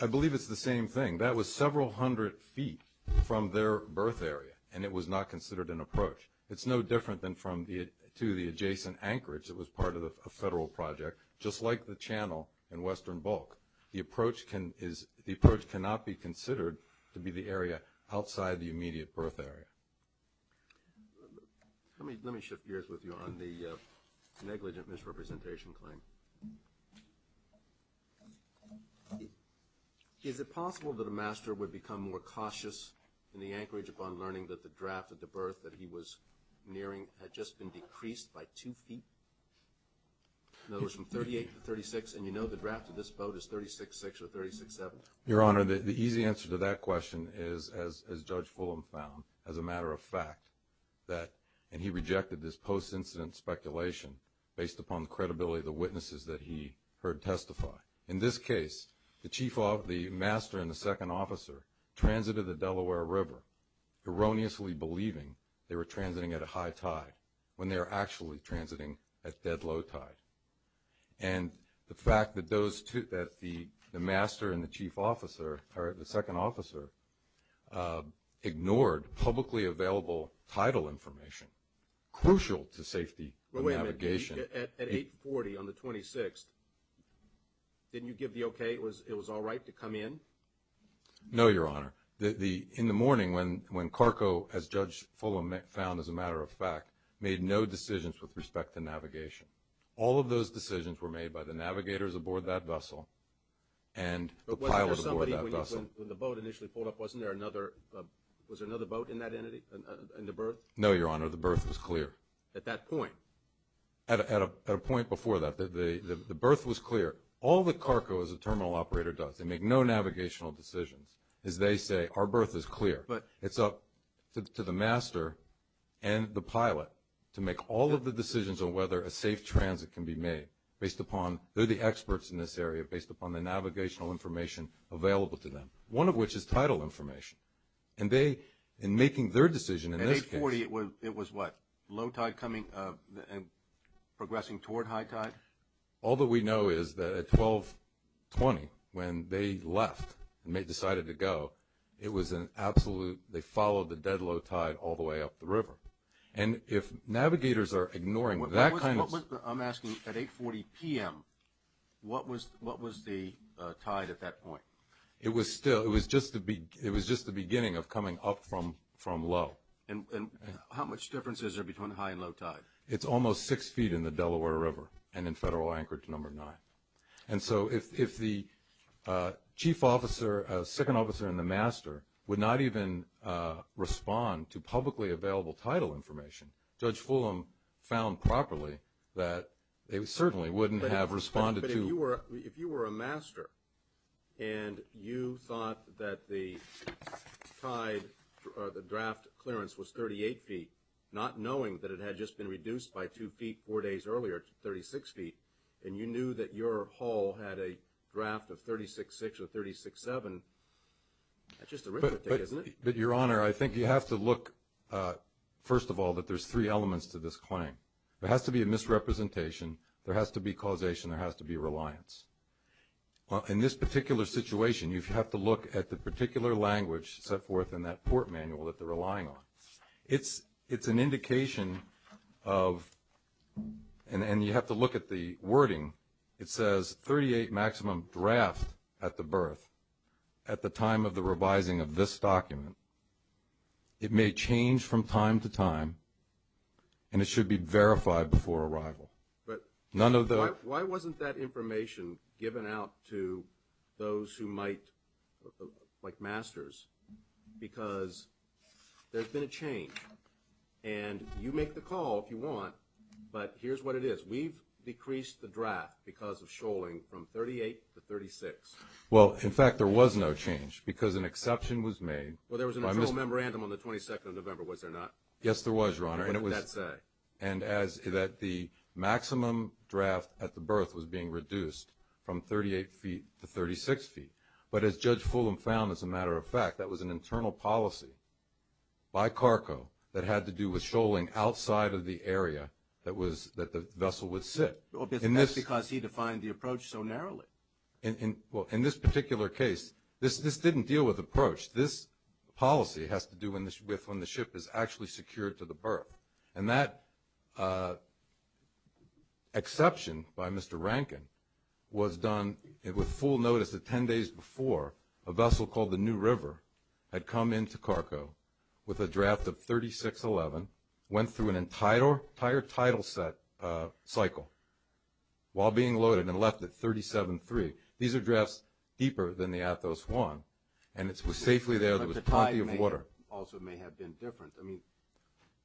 I believe it's the same thing that was several hundred feet from their birth area and it was not considered an approach It's no different than from the to the adjacent anchorage It was part of the federal project just like the channel in Western Bulk The approach can is the approach cannot be considered to be the area outside the immediate birth area Let me let me shift gears with you on the negligent misrepresentation claim Is it possible that a master would become more cautious in the anchorage upon learning that the draft of the birth that he was Nearing had just been decreased by two feet Those from 38 to 36 and you know, the draft of this boat is 36 6 or 36 7 your honor The easy answer to that question is as judge Fulham found as a matter of fact That and he rejected this post-incident speculation based upon the credibility of the witnesses that he heard testify in this case The chief of the master and the second officer transited the Delaware River Erroneously believing they were transiting at a high tide when they are actually transiting at dead low tide and The fact that those two that the the master and the chief officer are at the second officer Ignored publicly available title information crucial to safety 840 on the 26th Didn't you give the okay it was it was all right to come in No, your honor the the in the morning when when Carco as judge Fuller met found as a matter of fact made no decisions with respect to navigation all of those decisions were made by the navigators aboard that vessel and No, your honor the birth was clear at that point At a point before that the the birth was clear all the Carco as a terminal operator does they make no Navigational decisions as they say our birth is clear but it's up to the master and The pilot to make all of the decisions on whether a safe transit can be made based upon They're the experts in this area based upon the navigational information Available to them one of which is title information and they in making their decision in a 40 It was it was what low tide coming and progressing toward high tide. All that we know is that at 12 20 when they left and they decided to go it was an absolute They followed the dead low tide all the way up the river and if navigators are ignoring what that kind of I'm asking at 840 p.m What was what was the tide at that point? It was still it was just to be it was just the beginning of coming up from from low and How much difference is there between high and low tide? It's almost six feet in the Delaware River and in federal anchor to number nine. And so if the chief officer a second officer in the master would not even Respond to publicly available title information judge Fulham found properly that they certainly wouldn't have responded you were if you were a master and you thought that the Tide The draft clearance was 38 feet not knowing that it had just been reduced by two feet four days earlier 36 feet and you knew that your hall had a draft of 36 6 or 36 7 But your honor I think you have to look First of all that there's three elements to this claim. There has to be a misrepresentation There has to be causation there has to be reliance Well in this particular situation you have to look at the particular language set forth in that port manual that they're relying on it's it's an indication of And and you have to look at the wording it says 38 maximum draft at the birth At the time of the revising of this document It may change from time to time and it should be verified before arrival But none of the why wasn't that information given out to those who might like masters because there's been a change and You make the call if you want, but here's what it is We've decreased the draft because of shoaling from 38 to 36 Well, in fact, there was no change because an exception was made Well, there was a memorandum on the 22nd of November was there not? Yes, there was your honor and it was that's a and as that the maximum draft at the birth was being reduced from 38 feet To 36 feet, but as judge Fulham found as a matter of fact, that was an internal policy By Carco that had to do with shoaling outside of the area that was that the vessel would sit Well, that's because he defined the approach so narrowly and well in this particular case this this didn't deal with approach this Policy has to do in this with when the ship is actually secured to the birth and that Exception by mr. Rankin was done it with full notice at 10 days before a vessel called the new river Had come in to Carco with a draft of 36 11 went through an entire entire title set cycle while being loaded and left at 373 these are dressed deeper than the Athos Juan and it's was safely there. There was plenty of water also may have been different I mean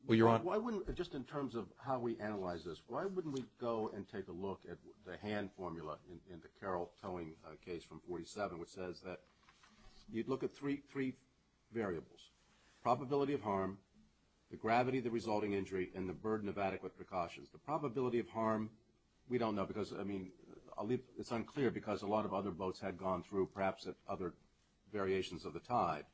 Well, you're on why wouldn't just in terms of how we analyze this? Why wouldn't we go and take a look at the hand formula in the Carroll towing case from 47, which says that? You'd look at three three variables probability of harm the gravity the resulting injury and the burden of adequate precautions the probability of harm We don't know because I mean I'll leave it's unclear because a lot of other boats had gone through perhaps at other Variations of the tide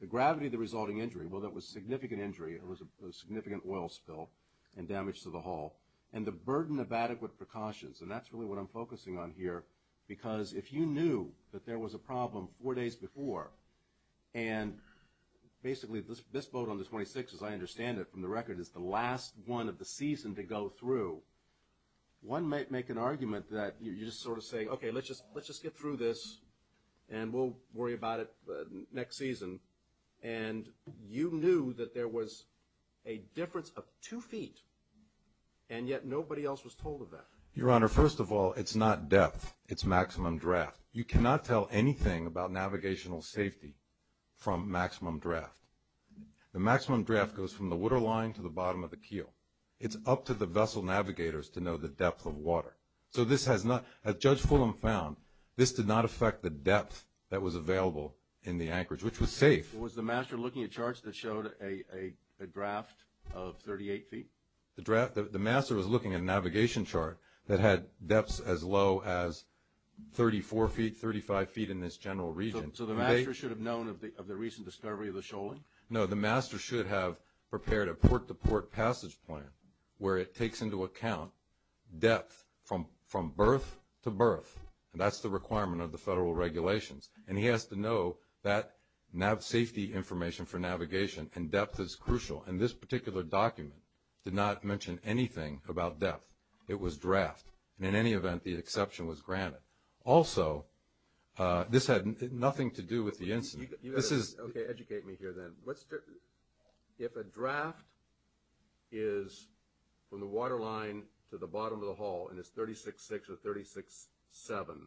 the gravity of the resulting injury. Well, that was significant injury It was a significant oil spill and damage to the hull and the burden of adequate precautions and that's really what I'm focusing on here because if you knew that there was a problem four days before and Basically this boat on the 26 as I understand it from the record is the last one of the season to go through One might make an argument that you just sort of say, okay, let's just let's just get through this and we'll worry about it next season and you knew that there was a difference of two feet and Yet nobody else was told of that your honor. First of all, it's not death. It's maximum draft You cannot tell anything about navigational safety from maximum draft The maximum draft goes from the waterline to the bottom of the keel It's up to the vessel navigators to know the depth of water So this has not as judge Fulham found this did not affect the depth that was available in the anchorage which was safe was the master looking at charts that showed a draft of 38 feet the draft the master was looking at a navigation chart that had depths as low as 34 feet 35 feet in this general region Known of the of the recent discovery of the shoaling No, the master should have prepared a port-to-port passage plan where it takes into account depth from from birth to birth and that's the requirement of the federal regulations and he has to know that Now safety information for navigation and depth is crucial and this particular document did not mention anything about depth It was draft and in any event the exception was granted also This had nothing to do with the incident this is If a draft is from the waterline to the bottom of the hull and it's 36 6 or 36 7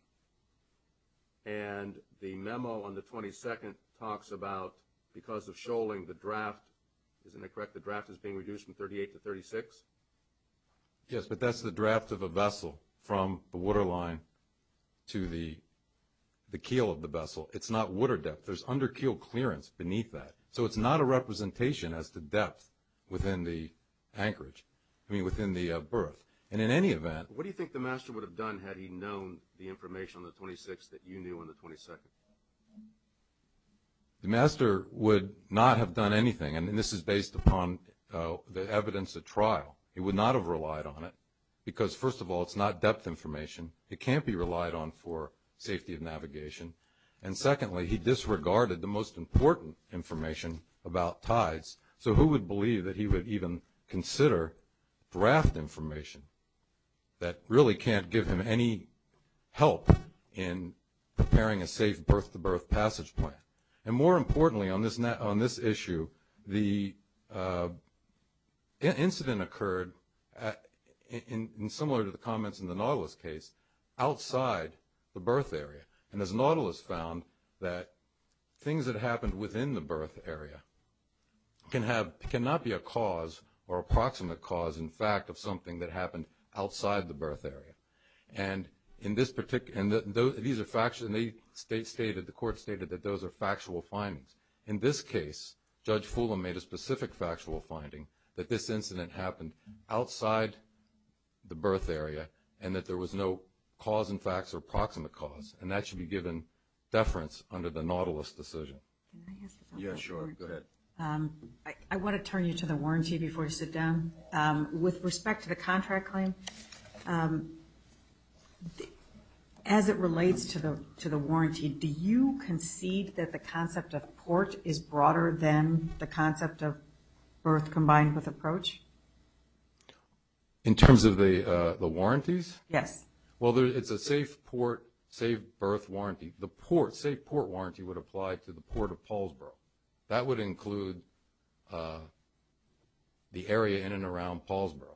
and The memo on the 22nd talks about because of shoaling the draft, isn't it? Correct? The draft is being reduced from 38 to 36 Yes, but that's the draft of a vessel from the waterline To the The keel of the vessel. It's not water depth. There's under keel clearance beneath that so it's not a representation as to depth within the Anchorage, I mean within the birth and in any event What do you think the master would have done had he known the information on the 26th that you knew in the 22nd? The master would not have done anything and this is based upon The evidence of trial he would not have relied on it because first of all, it's not depth information it can't be relied on for safety of navigation and Secondly, he disregarded the most important information about tides. So who would believe that he would even consider? draft information That really can't give him any help in preparing a safe birth to birth passage point and more importantly on this net on this issue the Incident occurred In similar to the comments in the Nautilus case Outside the birth area and as Nautilus found that things that happened within the birth area can have cannot be a cause or approximate cause in fact of something that happened outside the birth area and In this particular and though these are factually state stated the court stated that those are factual findings in this case Judge Fulham made a specific factual finding that this incident happened outside The birth area and that there was no cause and facts or proximate cause and that should be given Deference under the Nautilus decision Yeah, sure I want to turn you to the warranty before you sit down with respect to the contract claim As it relates to the to the warranty Do you concede that the concept of port is broader than the concept of birth combined with approach? In terms of the the warranties yes, well There's it's a safe port save birth warranty the port safe port warranty would apply to the port of Poulsboro that would include The area in and around Poulsboro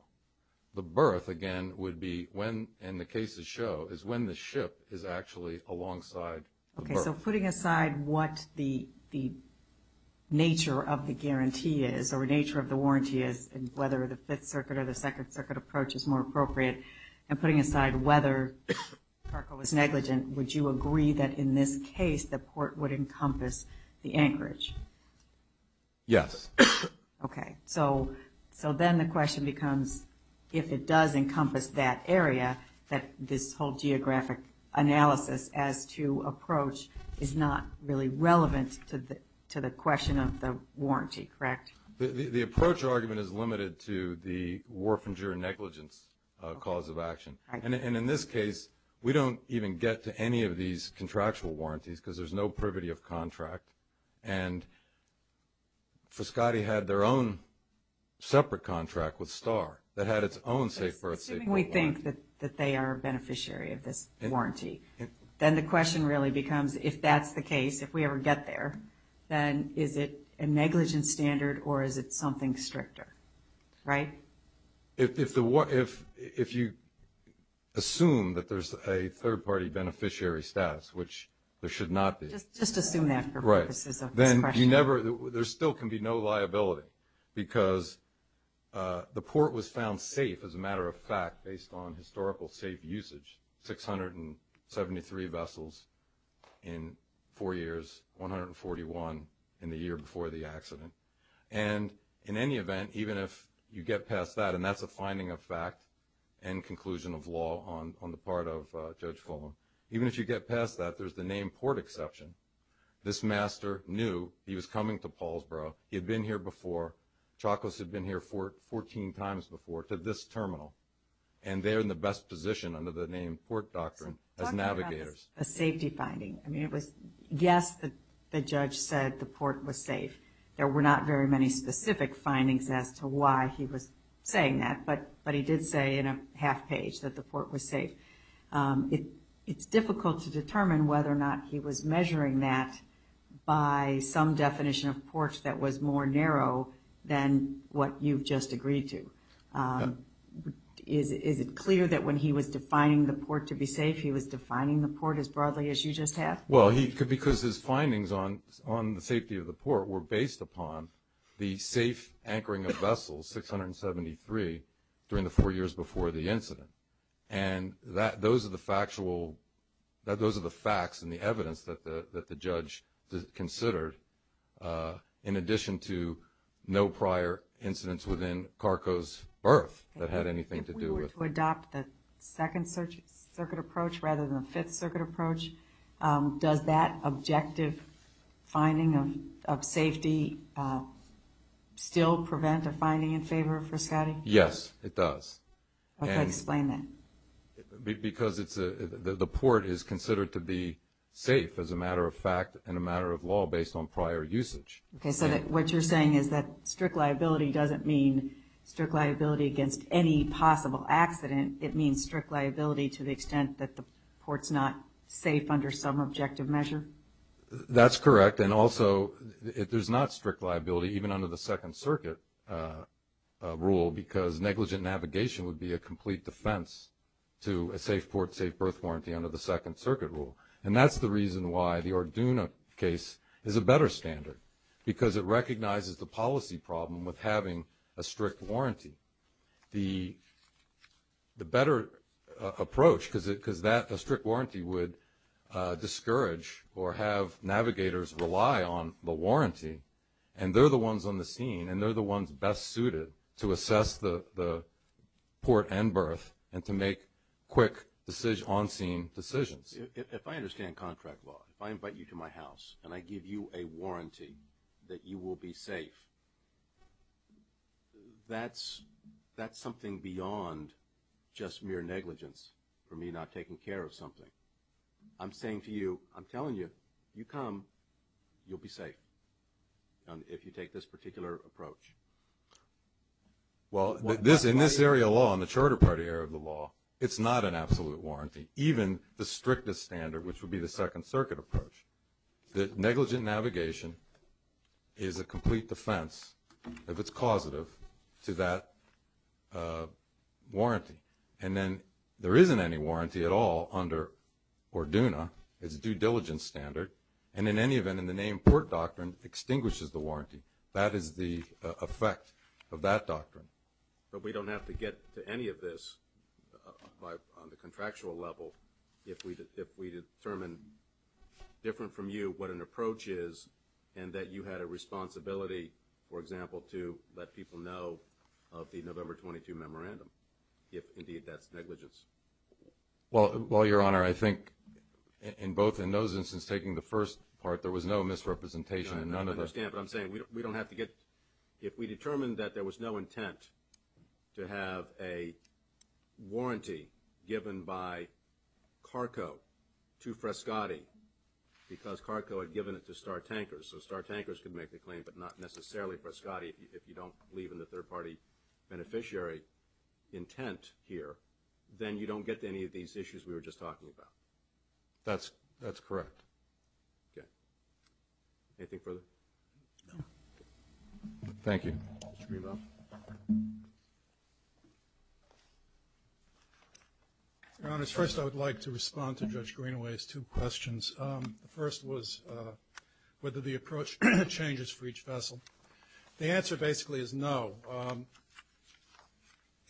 the birth again would be when and the cases show is when the ship is actually alongside, okay, so putting aside what the the nature of the guarantee is or nature of the warranty is and whether the Fifth Circuit or the Second Circuit approach is more appropriate and putting aside whether Parko is negligent. Would you agree that in this case the port would encompass the Anchorage? Yes Okay, so so then the question becomes if it does encompass that area that this whole geographic Analysis as to approach is not really relevant to the to the question of the warranty, correct? The approach argument is limited to the warfinger negligence Cause of action and in this case, we don't even get to any of these contractual warranties because there's no privity of contract and For Scotty had their own Separate contract with star that had its own safe births We think that that they are a beneficiary of this Warranty then the question really becomes if that's the case if we ever get there Then is it a negligent standard or is it something stricter? right if the what if if you Assume that there's a third-party beneficiary status, which there should not be just assume that right then you never there still can be no liability because The port was found safe as a matter of fact based on historical safe usage 673 vessels in four years 141 in the year before the accident and in any event even if you get past that and that's a finding of fact and Conclusion of law on on the part of judge Fulham, even if you get past that there's the name port exception This master knew he was coming to Paul's borough he had been here before chocolates had been here for 14 times before to this terminal and They're in the best position under the name port doctrine as navigators a safety finding I mean it was yes that the judge said the port was safe There were not very many specific findings as to why he was saying that but but he did say in a half page that the port was safe It it's difficult to determine whether or not he was measuring that By some definition of porch that was more narrow than what you've just agreed to Is it clear that when he was defining the port to be safe He was defining the port as broadly as you just have well He could because his findings on on the safety of the port were based upon the safe anchoring of vessels 673 during the four years before the incident and That those are the factual that those are the facts and the evidence that the that the judge considered in addition to No prior incidents within Carco's birth that had anything to do with adopt the second search circuit approach rather than the Fifth Circuit approach Does that objective? finding of safety Still prevent a finding in favor for Scotty. Yes, it does Explain that Because it's a the port is considered to be safe as a matter of fact and a matter of law based on prior usage Okay, so that what you're saying is that strict liability doesn't mean strict liability against any possible accident It means strict liability to the extent that the ports not safe under some objective measure That's correct. And also if there's not strict liability even under the Second Circuit Rule because negligent navigation would be a complete defense To a safe port safe birth warranty under the Second Circuit rule And that's the reason why the Arduino case is a better standard because it recognizes the policy problem with having a strict warranty the the better approach because it because that a strict warranty would Discourage or have navigators rely on the warranty and they're the ones on the scene and they're the ones best suited to assess the Port and birth and to make quick decision on scene decisions If I understand contract law if I invite you to my house and I give you a warranty that you will be safe That's That's something beyond Just mere negligence for me not taking care of something I'm saying to you I'm telling you you come You'll be safe And if you take this particular approach Well this in this area law in the Charter Party area of the law It's not an absolute warranty even the strictest standard which would be the Second Circuit approach that negligent navigation Is a complete defense if it's causative to that Warranty and then there isn't any warranty at all under Arduino it's due diligence standard and in any event in the name port doctrine extinguishes the warranty that is the effect of that doctrine But we don't have to get to any of this By on the contractual level if we did if we determine Different from you what an approach is and that you had a responsibility For example to let people know of the November 22 memorandum if indeed that's negligence Well, well your honor. I think in both in those instances taking the first part there was no misrepresentation And none of us can but I'm saying we don't have to get if we determined that there was no intent to have a warranty given by Carco to Frescotti Because Carco had given it to star tankers so star tankers could make the claim but not necessarily for Scotty if you don't believe in the third party beneficiary Intent here, then you don't get to any of these issues. We were just talking about That's that's correct Okay Anything further? Thank you I Was first I would like to respond to judge Greenaway's two questions the first was Whether the approach changes for each vessel the answer basically is no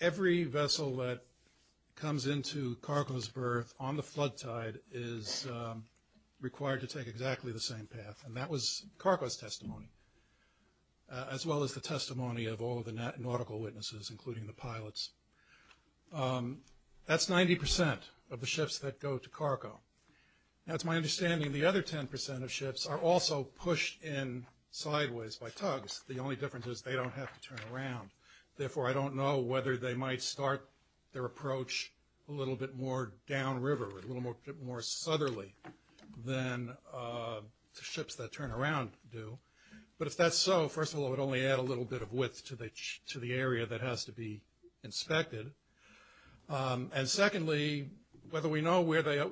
Every vessel that comes into Cargo's birth on the flood tide is Required to take exactly the same path and that was Cargo's testimony As well as the testimony of all of the net nautical witnesses including the pilots That's 90% of the ships that go to Cargo That's my understanding the other 10% of ships are also pushed in Sideways by tugs the only difference is they don't have to turn around Therefore I don't know whether they might start their approach a little bit more downriver a little more more southerly then Ships that turn around do but if that's so first of all it only add a little bit of width to the to the area That has to be inspected and secondly whether we know where they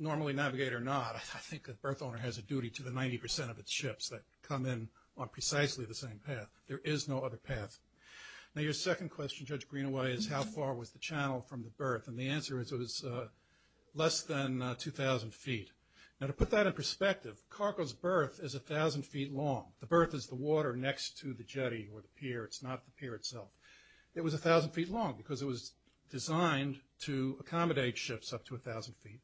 Normally navigate or not I think that birth owner has a duty to the 90% of its ships that come in on precisely the same path There is no other path now your second question judge Greenaway is how far was the channel from the birth and the answer is it was? 2,000 feet now to put that in perspective Cargo's birth is a thousand feet long the birth is the water next to the jetty or the pier It's not the pier itself It was a thousand feet long because it was designed to accommodate shifts up to a thousand feet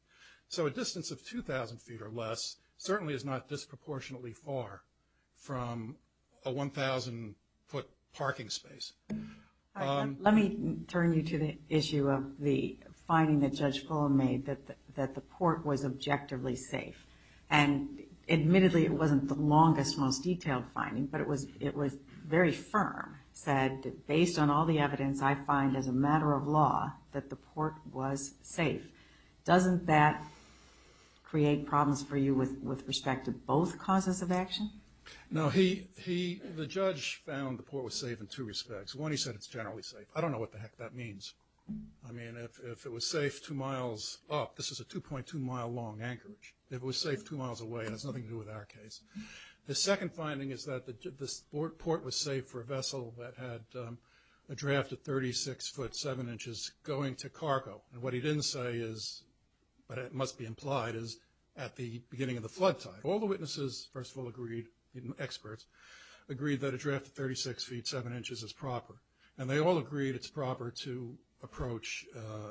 So a distance of 2,000 feet or less certainly is not disproportionately far from a 1,000 foot parking space Let me turn you to the issue of the finding that judge Fuller made that that the port was objectively safe and Admittedly, it wasn't the longest most detailed finding But it was it was very firm said based on all the evidence I find as a matter of law that the port was safe doesn't that Create problems for you with with respect to both causes of action Now he he the judge found the port was safe in two respects one. He said it's generally safe I don't know what the heck that means. I mean if it was safe two miles up This is a 2.2 mile long anchorage. It was safe two miles away, and it's nothing to do with our case The second finding is that the port was safe for a vessel that had a draft at 36 foot 7 inches Going to cargo and what he didn't say is But it must be implied is at the beginning of the flood tide all the witnesses first of all agreed even experts Agreed that a draft of 36 feet 7 inches is proper and they all agreed It's proper to approach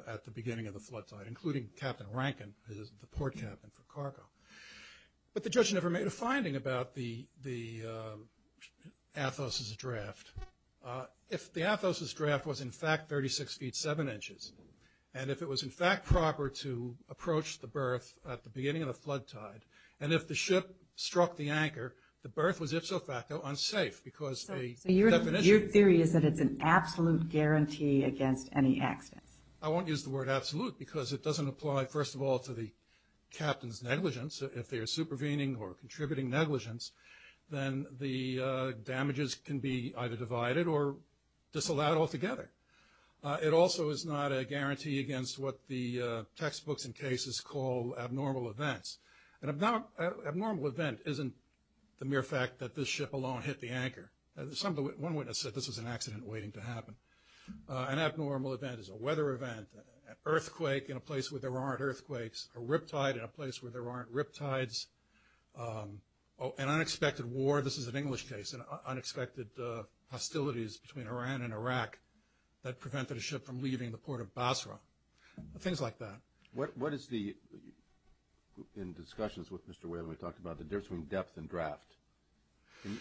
at the beginning of the flood tide including captain Rankin is the port captain for cargo but the judge never made a finding about the the Athos is a draft If the Athos is draft was in fact 36 feet 7 inches And if it was in fact proper to approach the berth at the beginning of the flood tide and if the ship struck the anchor the berth was ipso facto unsafe because Your theory is that it's an absolute guarantee against any accidents I won't use the word absolute because it doesn't apply first of all to the captain's negligence if they are supervening or contributing negligence then the damages can be either divided or disallowed altogether it also is not a guarantee against what the textbooks and cases call abnormal events and about Abnormal event isn't the mere fact that this ship alone hit the anchor There's something one witness said this was an accident waiting to happen An abnormal event is a weather event an earthquake in a place where there aren't earthquakes a riptide in a place where there aren't riptides Oh an unexpected war this is an English case and unexpected hostilities between Iran and Iraq That prevented a ship from leaving the port of Basra things like that what what is the In discussions with mr. Whalen we talked about the difference between depth and draft Can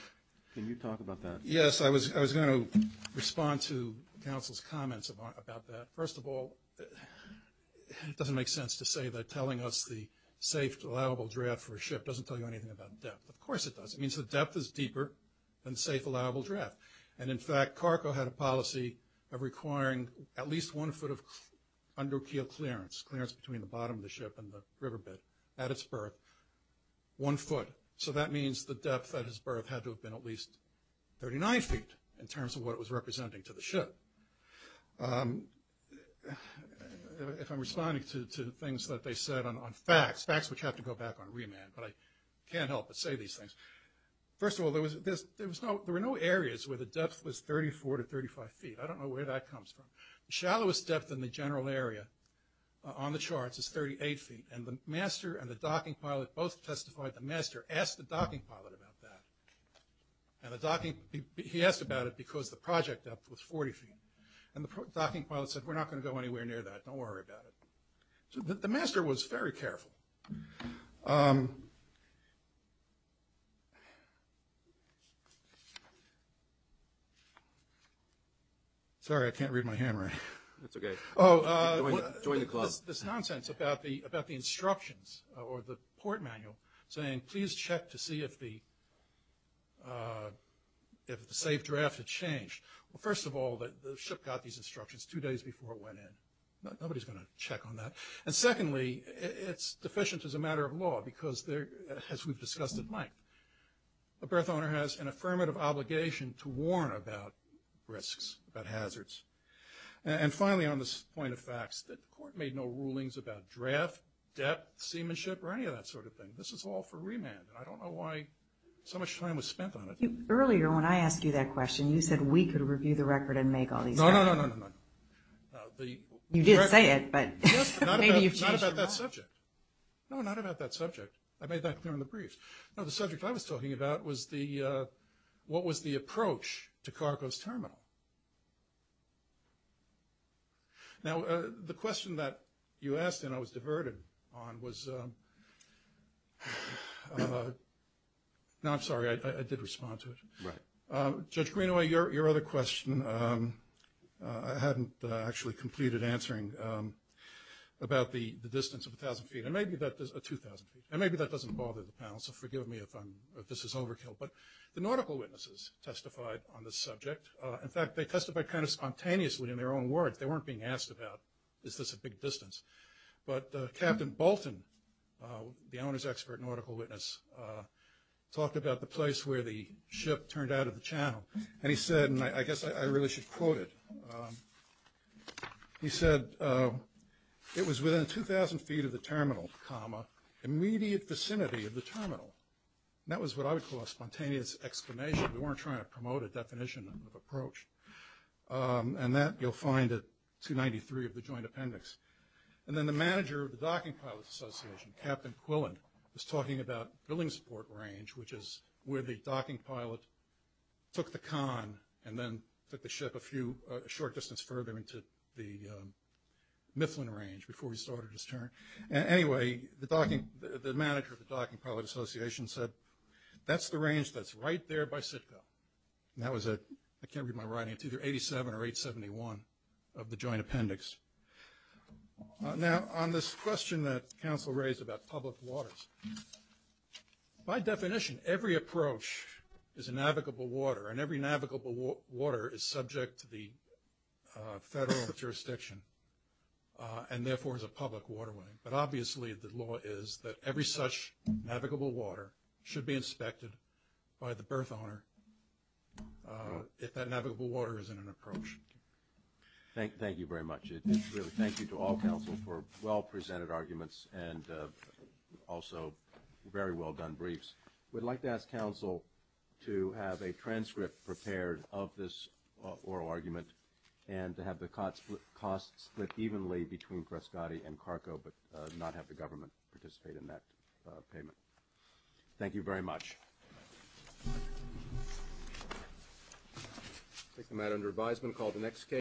you talk about that yes, I was I was going to respond to counsel's comments about that first of all It doesn't make sense to say that telling us the safe allowable draft for a ship doesn't tell you anything about depth Of course it does it means the depth is deeper than safe allowable draft and in fact Carco had a policy of requiring at least one foot of Undocu clearance clearance between the bottom of the ship and the riverbed at its birth One foot so that means the depth that his birth had to have been at least 39 feet in terms of what it was representing to the ship If I'm responding to things that they said on on facts facts which have to go back on remand But I can't help but say these things First of all there was this there was no there were no areas where the depth was 34 to 35 feet I don't know where that comes from Shallowest depth in the general area On the charts is 38 feet and the master and the docking pilot both testified the master asked the docking pilot about that And the docking he asked about it because the project depth was 40 feet and the docking pilot said we're not going to go anywhere Near that don't worry about it So the master was very careful Sorry, I can't read my hand right that's okay. Oh join the class this nonsense about the about the instructions or the port manual saying please check to see if the If the safe draft had changed well first of all that the ship got these instructions two days before it went in Nobody's gonna check on that and secondly. It's deficient as a matter of law because there as we've discussed at length a birth owner has an affirmative obligation to warn about risks about hazards And finally on this point of facts that the court made no rulings about draft Depth seamanship or any of that sort of thing this is all for remand So much time was spent on it earlier when I asked you that question you said we could review the record and make all these You didn't say it but No, not about that subject I made that clear in the briefs now the subject I was talking about was the What was the approach to cargos terminal? Now the question that you asked and I was diverted on was Now I'm sorry, I did respond to it right judge Greenaway your other question I Hadn't actually completed answering About the the distance of a thousand feet and maybe that there's a 2,000 feet and maybe that doesn't bother the panel So forgive me if I'm this is overkill, but the nautical witnesses testified on this subject in fact They testified kind of spontaneously in their own words. They weren't being asked about is this a big distance, but captain Bolton The owners expert nautical witness Talked about the place where the ship turned out of the channel, and he said and I guess I really should quote it He said It was within 2,000 feet of the terminal comma immediate vicinity of the terminal That was what I would call a spontaneous explanation. We weren't trying to promote a definition of approach And that you'll find it 293 of the joint appendix and then the manager of the docking pilots Association captain Quillen was talking about building support range Which is where the docking pilot? took the con and then took the ship a few short distance further into the Mifflin range before he started his turn anyway the docking the manager of the docking pilot Association said That's the range. That's right there by Sitka That was it I can't read my writing to their 87 or 871 of the joint appendix Now on this question that council raised about public waters by definition every approach is a navigable water and every navigable water is subject to the federal jurisdiction And therefore is a public waterway, but obviously the law is that every such navigable water should be inspected by the birth owner If that navigable water is in an approach Thank thank you very much. It's really. Thank you to all counsel for well presented arguments and Also, very well done briefs We'd like to ask counsel to have a transcript prepared of this Oral argument and to have the cots with costs that evenly between Prescotti and Carco But not have the government participate in that payment Thank you very much I think the matter under advisement called the next case